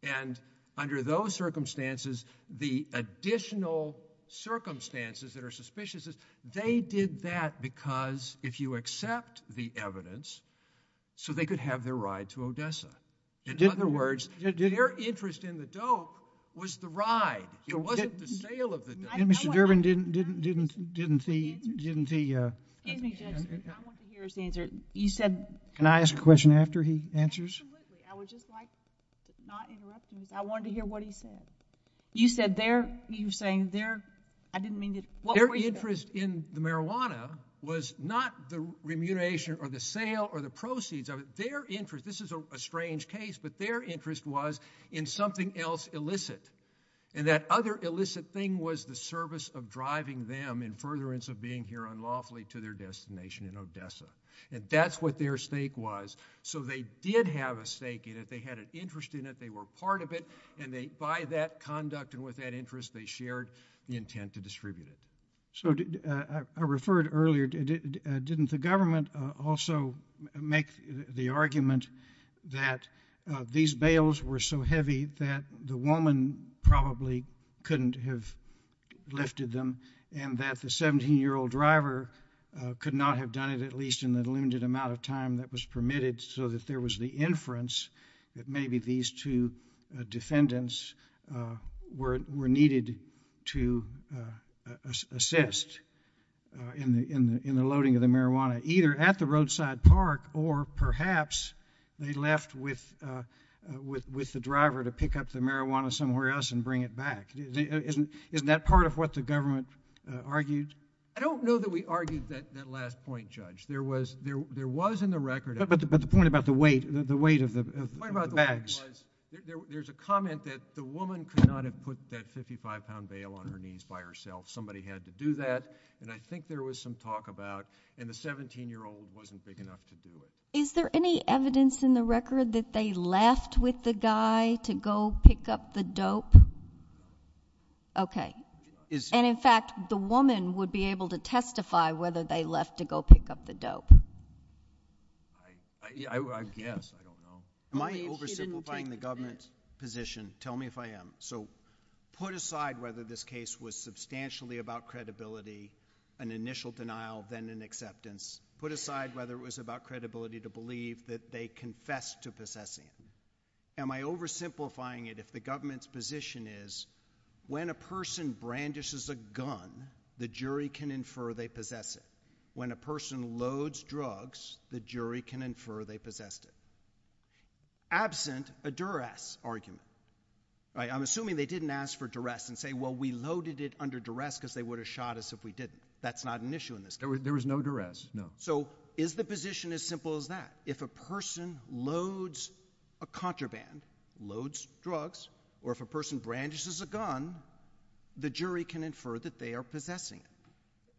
And under those circumstances, the additional circumstances that are suspicious, they did that because if you accept the evidence, so they could have their ride to Odessa. In other words, their interest in the dope was the ride. It wasn't the sale of the dope. Mr. Durbin, didn't he... Excuse me, Judge. I want to hear his answer. You said... Can I ask a question after he answers? Absolutely. I would just like to not interrupt you. I wanted to hear what he said. You said they're... you were saying they're... I didn't mean to... Their interest in the marijuana was not the remuneration or the sale or the proceeds of it. Their interest... this is a strange case, but their interest was in something else illicit. And that other illicit thing was the service of driving them, in furtherance of being here unlawfully, to their destination in Odessa. And that's what their stake was. So they did have a stake in it. They had an interest in it. They were part of it. And by that conduct and with that interest, they shared the intent to distribute it. So I referred earlier, didn't the government also make the argument that these bales were so heavy that the woman probably couldn't have lifted them and that the 17-year-old driver could not have done it, at least in the limited amount of time that was permitted, so that there was the inference that maybe these two defendants were needed to assist in the loading of the marijuana, either at the roadside park or perhaps they left with the driver to pick up the marijuana somewhere else and bring it back. Isn't that part of what the government argued? I don't know that we argued that last point, Judge. There was in the record... But the point about the weight of the bags... The point about the weight was there's a comment that the woman could not have put that 55-pound bale on her knees by herself. Somebody had to do that. And I think there was some talk about... The 17-year-old wasn't big enough to do it. Is there any evidence in the record that they left with the guy to go pick up the dope? No. Okay. And in fact, the woman would be able to testify whether they left to go pick up the dope. I guess. I don't know. Am I oversimplifying the government's position? Tell me if I am. So, put aside whether this case was substantially about credibility, an initial denial, then an acceptance. Put aside whether it was about credibility to believe that they confessed to possessing. Am I oversimplifying it if the government's position is, when a person brandishes a gun, the jury can infer they possess it. When a person loads drugs, the jury can infer they possessed it. Absent a duress argument. I'm assuming they didn't ask for duress and say, well, we loaded it under duress because they would have shot us if we didn't. That's not an issue in this case. There was no duress. No. So, is the position as simple as that? If a person loads a contraband, loads drugs, or if a person brandishes a gun, the jury can infer that they are possessing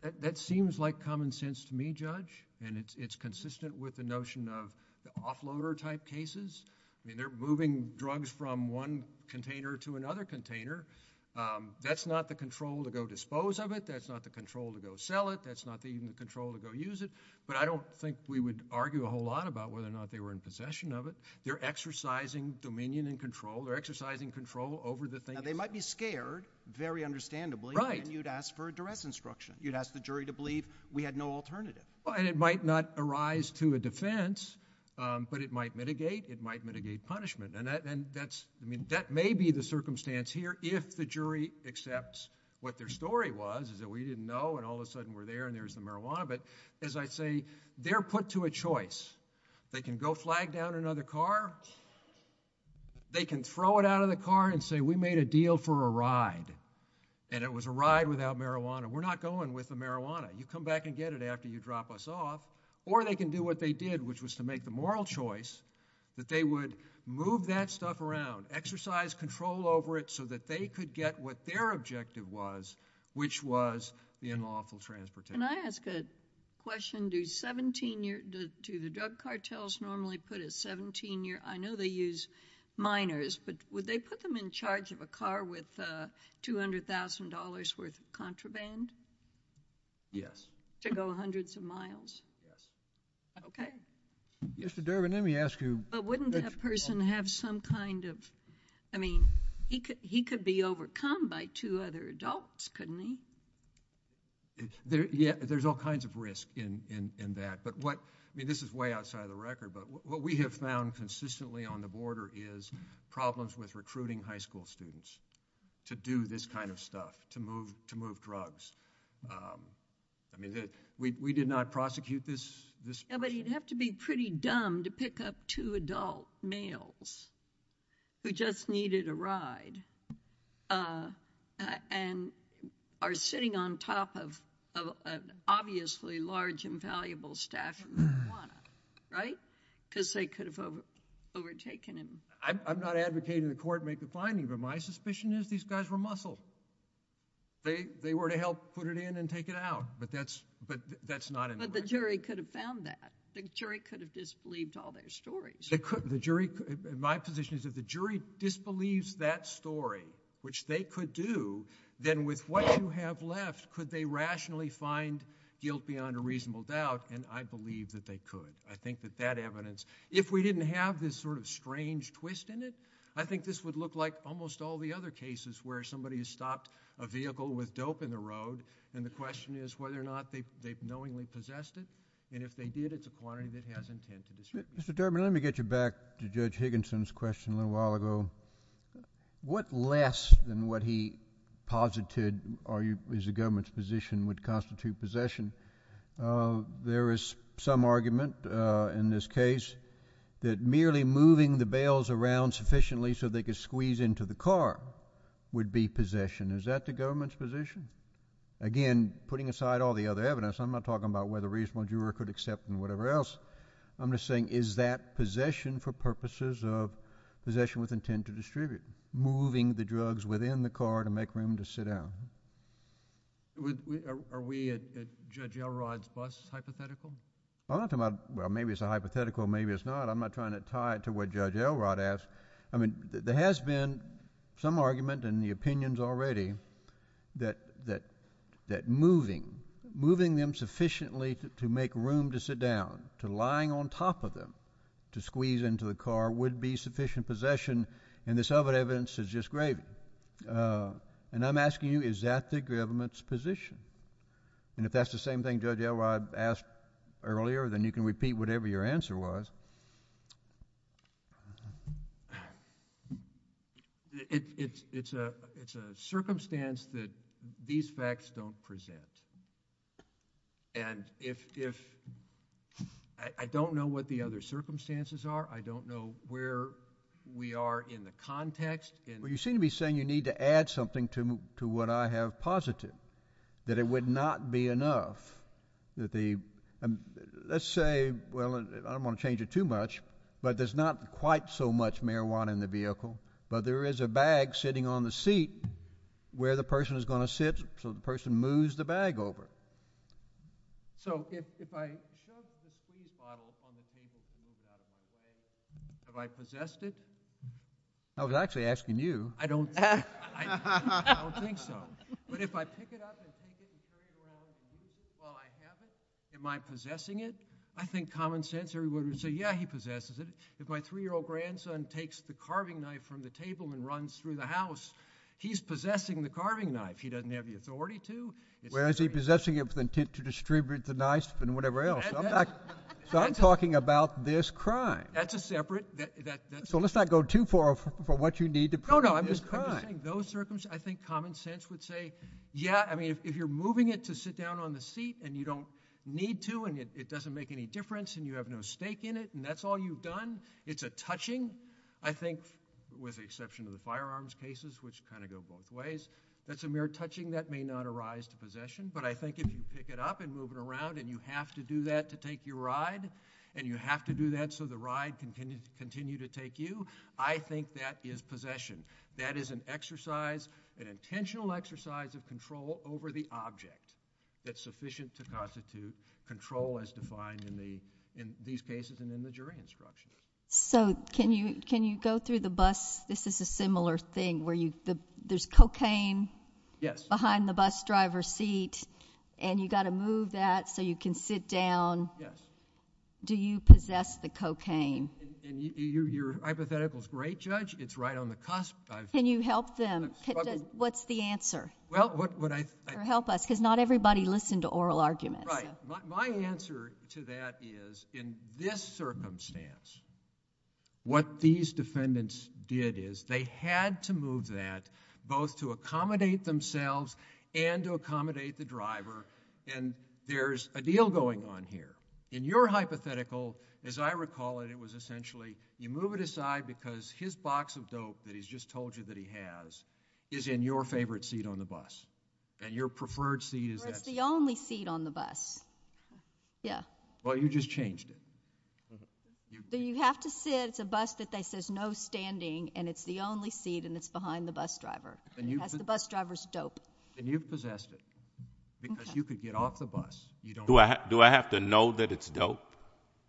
it. That seems like common sense to me, Judge. And it's consistent with the notion of the offloader type cases. I mean, they're moving drugs from one container to another container. That's not the control to go dispose of it. That's not the control to go sell it. That's not even the control to go use it. But I don't think we would argue a whole lot about whether or not they were in possession of it. They're exercising dominion and control. They're exercising control over the thing. Now, they might be scared, very understandably. Right. And you'd ask for a duress instruction. You'd ask the jury to believe we had no alternative. And it might not arise to a defense, but it might mitigate. It might mitigate punishment. And that may be the circumstance here if the jury accepts what their story was, is that we didn't know and all of a sudden we're there and there's the marijuana. But as I say, they're put to a choice. They can go flag down another car. They can throw it out of the car and say, we made a deal for a ride, and it was a ride without marijuana. We're not going with the marijuana. You come back and get it after you drop us off. Or they can do what they did, which was to make the moral choice that they would move that stuff around, exercise control over it so that they could get what their objective was, which was the unlawful transportation. Can I ask a question? Do the drug cartels normally put a 17-year – I know they use minors, but would they put them in charge of a car with $200,000 worth of contraband? Yes. To go hundreds of miles? Yes. Okay. Mr. Durbin, let me ask you – But wouldn't that person have some kind of – I mean, he could be overcome by two other adults, couldn't he? Yeah, there's all kinds of risk in that. But what – I mean, this is way outside the record, but what we have found consistently on the border is problems with recruiting high school students to do this kind of stuff, to move drugs. I mean, we did not prosecute this person. Yeah, but he'd have to be pretty dumb to pick up two adult males who just needed a ride and are sitting on top of an obviously large and valuable stash of marijuana, right? Because they could have overtaken him. I'm not advocating the court make a finding, but my suspicion is these guys were muscle. They were to help put it in and take it out, but that's not in the record. But the jury could have found that. The jury could have disbelieved all their stories. My position is if the jury disbelieves that story, which they could do, then with what you have left, could they rationally find guilt beyond a reasonable doubt? And I believe that they could. I think that that evidence – if we didn't have this sort of strange twist in it, I think this would look like almost all the other cases where somebody has stopped a vehicle with dope in the road, and the question is whether or not they've knowingly possessed it, and if they did, it's a quantity that has intent to distribute. Mr. Durbin, let me get you back to Judge Higginson's question a little while ago. What less than what he posited is the government's position would constitute possession? There is some argument in this case that merely moving the bales around sufficiently so they could squeeze into the car would be possession. Is that the government's position? Again, putting aside all the other evidence, I'm not talking about whether a reasonable juror could accept it or whatever else. I'm just saying is that possession for purposes of possession with intent to distribute, moving the drugs within the car to make room to sit down? Are we at Judge Elrod's bus hypothetical? I'm not talking about, well, maybe it's a hypothetical, maybe it's not. I'm not trying to tie it to what Judge Elrod asked. I mean, there has been some argument in the opinions already that moving them sufficiently to make room to sit down, to lying on top of them to squeeze into the car would be sufficient possession, and this other evidence is just gravy. And I'm asking you, is that the government's position? And if that's the same thing Judge Elrod asked earlier, then you can repeat whatever your answer was. It's a circumstance that these facts don't present, and I don't know what the other circumstances are. I don't know where we are in the context. Well, you seem to be saying you need to add something to what I have posited, that it would not be enough. Let's say, well, I don't want to change it too much, but there's not quite so much marijuana in the vehicle, but there is a bag sitting on the seat where the person is going to sit, so the person moves the bag over. So if I chugged the speed bottle on the thing that you're talking about, have I possessed it? I was actually asking you. I don't think so. But if I pick it up and take it and throw it away while I have it, am I possessing it? I think common sense, everybody would say, yeah, he possesses it. If my 3-year-old grandson takes the carving knife from the table and runs through the house, he's possessing the carving knife. He doesn't have the authority to. Well, is he possessing it with the intent to distribute the knife and whatever else? So I'm talking about this crime. That's a separate. So let's not go too far for what you need to prove. No, no, I'm just saying those circumstances, I think common sense would say, yeah, I mean, if you're moving it to sit down on the seat and you don't need to and it doesn't make any difference and you have no stake in it and that's all you've done, it's a touching, I think, with the exception of the firearms cases, which kind of go both ways. That's a mere touching that may not arise to possession. But I think if you pick it up and move it around and you have to do that to take your ride and you have to do that so the ride can continue to take you, I think that is possession. That is an exercise, an intentional exercise of control over the object that's sufficient to constitute control as defined in these cases and in the jury instructions. So can you go through the bus? This is a similar thing where there's cocaine behind the bus driver's seat and you've got to move that so you can sit down. Yes. Do you possess the cocaine? Your hypothetical is great, Judge. It's right on the cusp. Can you help them? What's the answer? Well, what I... Or help us because not everybody listened to oral arguments. Right. My answer to that is in this circumstance, what these defendants did is they had to move that both to accommodate themselves and to accommodate the driver. And there's a deal going on here. In your hypothetical, as I recall it, it was essentially you move it aside because his box of dope that he's just told you that he has is in your favorite seat on the bus. And your preferred seat is that seat. It's the only seat on the bus. Yeah. Well, you just changed it. So you have to sit. It's a bus that says no standing, and it's the only seat, and it's behind the bus driver. Because the bus driver's dope. Then you've possessed it because you could get off the bus. Do I have to know that it's dope?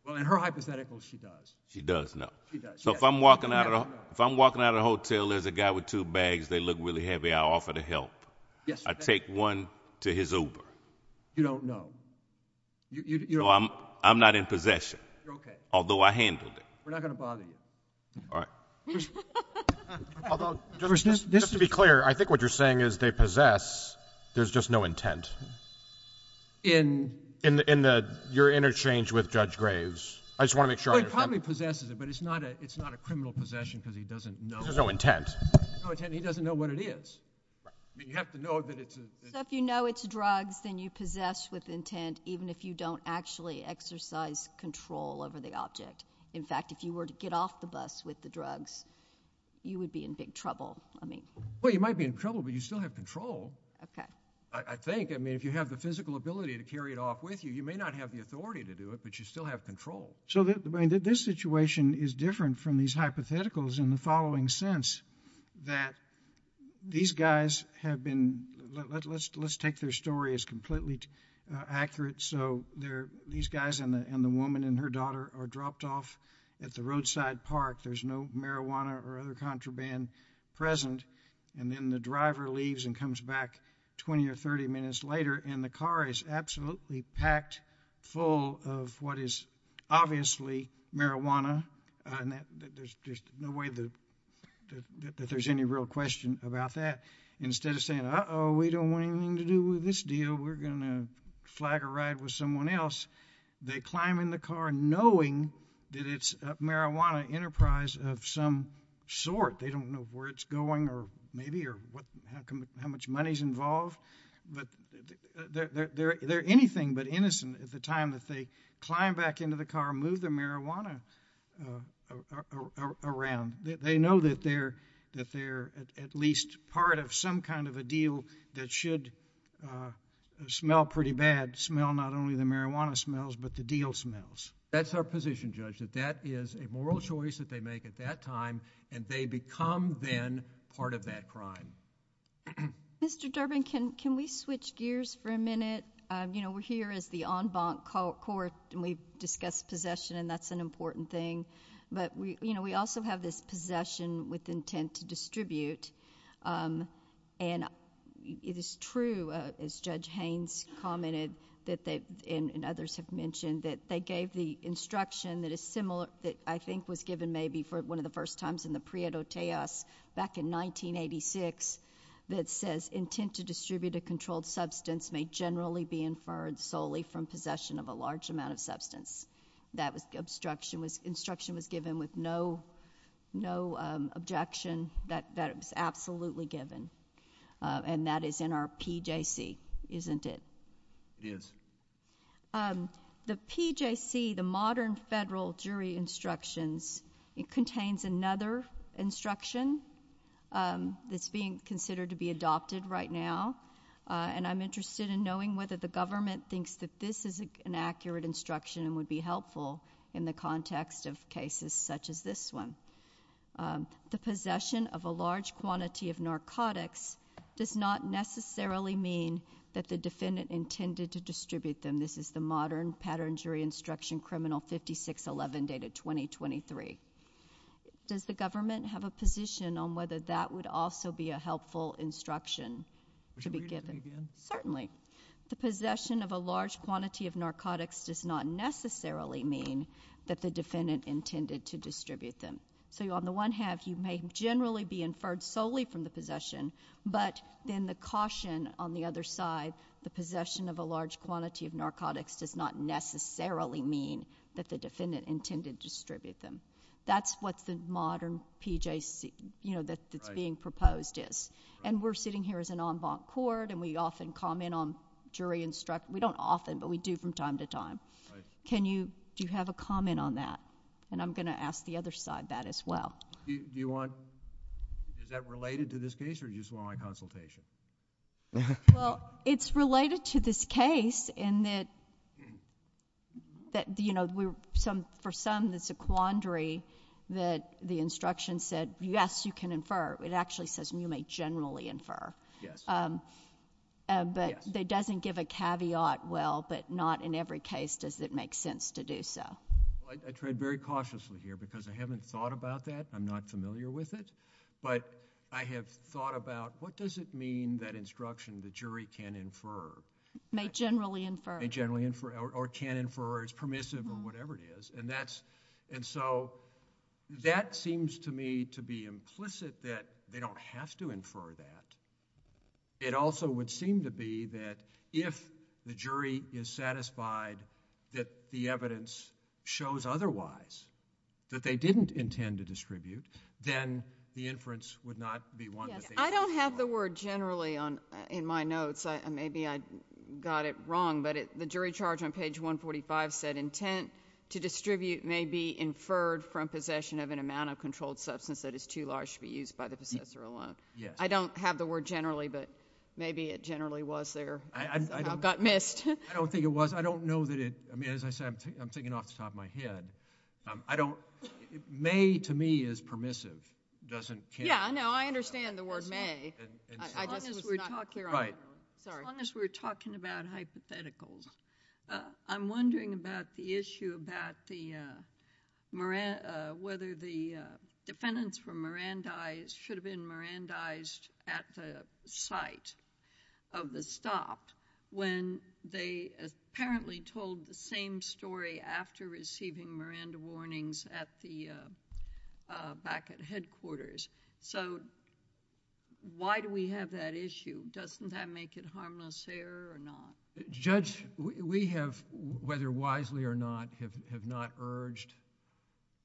Well, in her hypothetical, she does. She does know. She does. So if I'm walking out of the hotel, there's a guy with two bags. They look really heavy. I offer to help. Yes. I take one to his Uber. You don't know. No, I'm not in possession. You're okay. Although I handled it. We're not going to bother you. All right. Although, just to be clear, I think what you're saying is they possess. There's just no intent. In? In your interchange with Judge Graves. I just want to make sure. Well, he probably possesses it, but it's not a criminal possession because he doesn't know. There's no intent. No intent, and he doesn't know what it is. You have to know that it's a— So if you know it's drugs, then you possess with intent, even if you don't actually exercise control over the object. In fact, if you were to get off the bus with the drugs, you would be in big trouble. Well, you might be in trouble, but you still have control. Okay. I think. I mean, if you have the physical ability to carry it off with you, you may not have the authority to do it, but you still have control. So this situation is different from these hypotheticals in the following sense, that these guys have been—let's take their story as completely accurate. So these guys and the woman and her daughter are dropped off at the roadside park. There's no marijuana or other contraband present, and then the driver leaves and comes back 20 or 30 minutes later, and the car is absolutely packed full of what is obviously marijuana. There's no way that there's any real question about that. Instead of saying, uh-oh, we don't want anything to do with this deal. We're going to flag a ride with someone else, they climb in the car knowing that it's a marijuana enterprise of some sort. They don't know where it's going or maybe or how much money is involved, but they're anything but innocent at the time that they climb back into the car, move the marijuana around. They know that they're at least part of some kind of a deal that should smell pretty bad, smell not only the marijuana smells but the deal smells. That's our position, Judge, that that is a moral choice that they make at that time, and they become then part of that crime. Mr. Durbin, can we switch gears for a minute? We're here as the en banc court, and we've discussed possession, and that's an important thing, but we also have this possession with intent to distribute. It is true, as Judge Haynes commented and others have mentioned, that they gave the instruction that I think was given maybe for one of the first times in the Prieto Teos back in 1986 that says, intent to distribute a controlled substance may generally be inferred solely from possession of a large amount of substance. That instruction was given with no objection. That was absolutely given, and that is in our PJC, isn't it? It is. The PJC, the Modern Federal Jury Instructions, it contains another instruction that's being considered to be adopted right now, and I'm interested in knowing whether the government thinks that this is an accurate instruction and would be helpful in the context of cases such as this one. The possession of a large quantity of narcotics does not necessarily mean that the defendant intended to distribute them. Again, this is the Modern Pattern Jury Instruction, Criminal 5611, dated 2023. Does the government have a position on whether that would also be a helpful instruction to be given? Certainly. The possession of a large quantity of narcotics does not necessarily mean that the defendant intended to distribute them. So on the one hand, you may generally be inferred solely from the possession, but then the caution on the other side, the possession of a large quantity of narcotics does not necessarily mean that the defendant intended to distribute them. That's what the Modern PJC, you know, that's being proposed is. And we're sitting here as an en banc court, and we often comment on jury instruction. We don't often, but we do from time to time. Do you have a comment on that? And I'm going to ask the other side that as well. Do you want, is that related to this case, or do you just want my consultation? Well, it's related to this case in that, you know, for some it's a quandary that the instruction said, yes, you can infer. It actually says you may generally infer. Yes. But it doesn't give a caveat, well, but not in every case does it make sense to do so. Well, I tread very cautiously here because I haven't thought about that. I'm not familiar with it. But I have thought about what does it mean that instruction the jury can infer? May generally infer. May generally infer, or can infer, or is permissive, or whatever it is. And that's, and so that seems to me to be implicit that they don't have to infer that. It also would seem to be that if the jury is satisfied that the evidence shows otherwise, that they didn't intend to distribute, then the inference would not be one that they inferred for. I don't have the word generally in my notes. Maybe I got it wrong, but the jury charge on page 145 said intent to distribute may be inferred from possession of an amount of controlled substance that is too large to be used by the possessor alone. I don't have the word generally, but maybe it generally was there. I got missed. I don't think it was. I don't know that it... I mean, as I said, I'm thinking off the top of my head. I don't... may to me is permissive. It doesn't... Yeah, I know. I understand the word may. I just was not clear on it. Right. Sorry. As long as we're talking about hypotheticals. I'm wondering about the issue about whether the defendants were Mirandized, should have been Mirandized at the site of the stop when they apparently told the same story after receiving Miranda warnings back at headquarters. Why do we have that issue? Doesn't that make it harmless error or not? Judge, we have, whether wisely or not, have not urged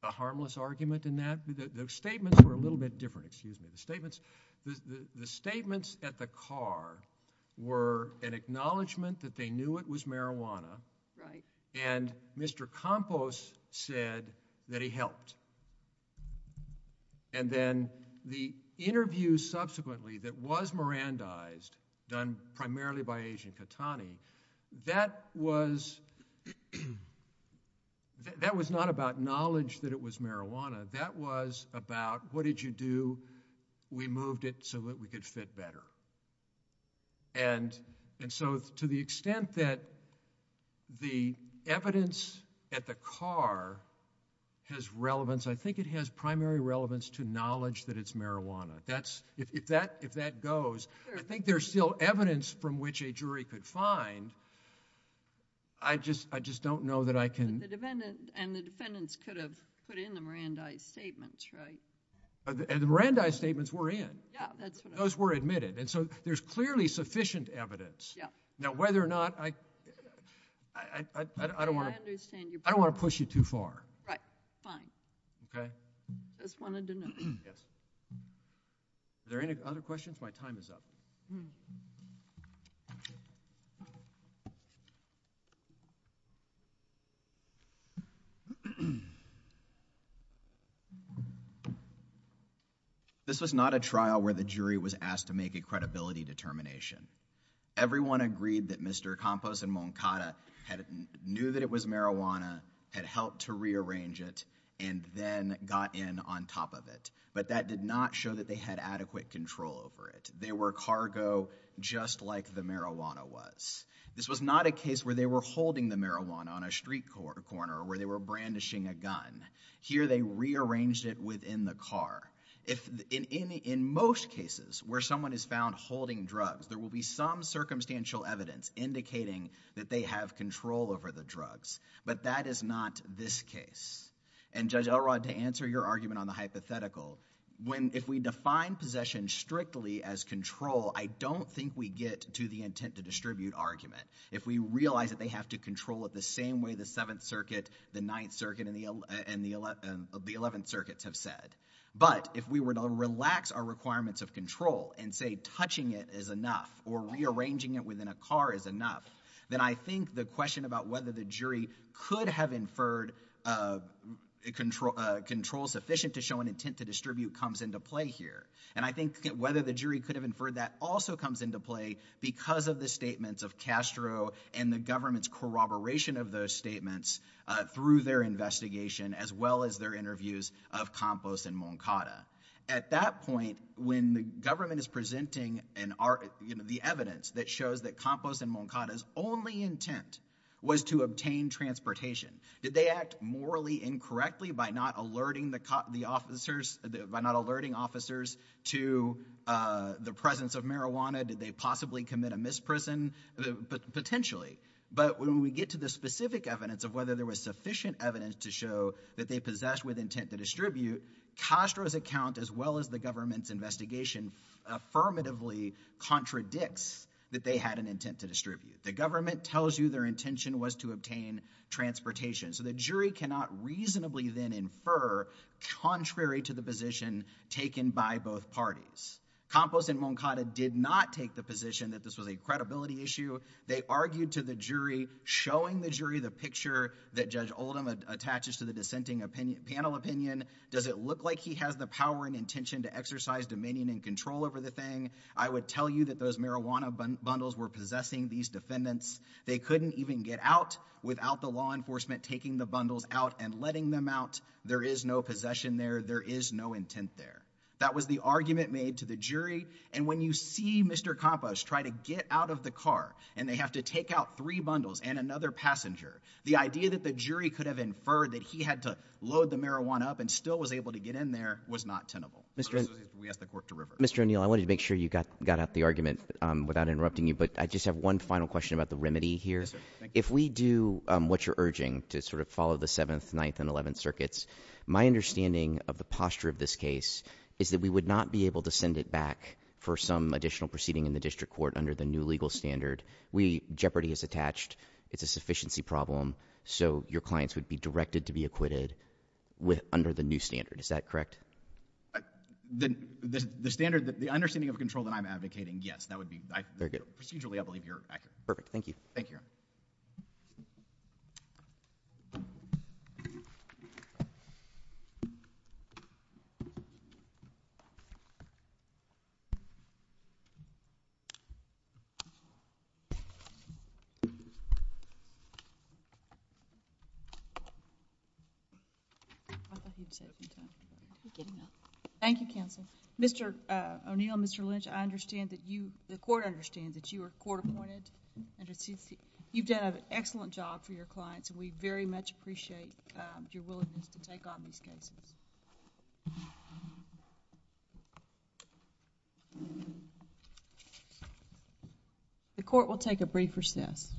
a harmless argument in that. The statements were a little bit different. Excuse me. The statements at the car were an acknowledgement that they knew it was marijuana. Right. And Mr. Campos said that he helped. And then the interview subsequently that was Mirandized, done primarily by Agent Catani, that was not about knowledge that it was marijuana. That was about, what did you do? We moved it so that we could fit better. And so to the extent that the evidence at the car has relevance, I think it has primary relevance to knowledge that it's marijuana. If that goes, I think there's still evidence from which a jury could find. I just don't know that I can... And the defendants could have put in the Mirandized statements, right? And the Mirandized statements were in. Yeah, that's what I... Those were admitted. And so there's clearly sufficient evidence. Yeah. Now whether or not I... I don't want to... I understand your... I don't want to push you too far. Right. Fine. Okay. I just wanted to know. Yes. Are there any other questions? My time is up. Thank you. This was not a trial where the jury was asked to make a credibility determination. Everyone agreed that Mr. Campos and Moncada knew that it was marijuana, had helped to rearrange it, and then got in on top of it. But that did not show that they had adequate control over it. They were cargo just like the marijuana was. This was not a case where they were holding the marijuana on a street corner or where they were brandishing a gun. Here they rearranged it within the car. In most cases where someone is found holding drugs, there will be some circumstantial evidence indicating that they have control over the drugs. But that is not this case. And Judge Elrod, to answer your argument on the hypothetical, if we define possession strictly as control, I don't think we get to the intent to distribute argument. If we realize that they have to control it the same way the Seventh Circuit, the Ninth Circuit, and the Eleventh Circuits have said. But if we were to relax our requirements of control and say touching it is enough or rearranging it within a car is enough, then I think the question about whether the jury could have inferred control sufficient to show an intent to distribute comes into play here. And I think whether the jury could have inferred that also comes into play because of the statements of Castro and the government's corroboration of those statements through their investigation as well as their interviews of Campos and Moncada. At that point, when the government is presenting the evidence that shows that Campos and Moncada's only intent was to obtain transportation, did they act morally incorrectly by not alerting officers to the presence of marijuana? Did they possibly commit a misprison? Potentially. But when we get to the specific evidence of whether there was sufficient evidence to show that they possessed with intent to distribute, Castro's account as well as the government's investigation affirmatively contradicts that they had an intent to distribute. The government tells you their intention was to obtain transportation. So the jury cannot reasonably then infer contrary to the position taken by both parties. Campos and Moncada did not take the position that this was a credibility issue. They argued to the jury, showing the jury the picture that Judge Oldham attaches to the dissenting panel opinion, does it look like he has the power and intention to exercise dominion and control over the thing? I would tell you that those marijuana bundles were possessing these defendants. They couldn't even get out without the law enforcement taking the bundles out and letting them out. There is no possession there. There is no intent there. That was the argument made to the jury. And when you see Mr. Campos try to get out of the car and they have to take out three bundles and another passenger, the idea that the jury could have inferred that he had to load the marijuana up and still was able to get in there was not tenable. We ask the court to reverse. Mr. O'Neill, I wanted to make sure you got out the argument without interrupting you, but I just have one final question about the remedy here. Yes, sir. Thank you. If we do what you're urging to sort of follow the 7th, 9th, and 11th circuits, my understanding of the posture of this case is that we would not be able to send it back for some additional proceeding in the district court under the new legal standard. Jeopardy is attached. It's a sufficiency problem, so your clients would be directed to be acquitted under the new standard. Is that correct? The standard, the understanding of control that I'm advocating, yes. That would be, procedurally, I believe you're accurate. Perfect. Thank you. Thank you. Thank you, counsel. Mr. O'Neill, Mr. Lynch, I understand that you, the court understands that you were court appointed. You've done an excellent job for your clients, and we very much appreciate your willingness to take on these cases. The court will take a brief recess.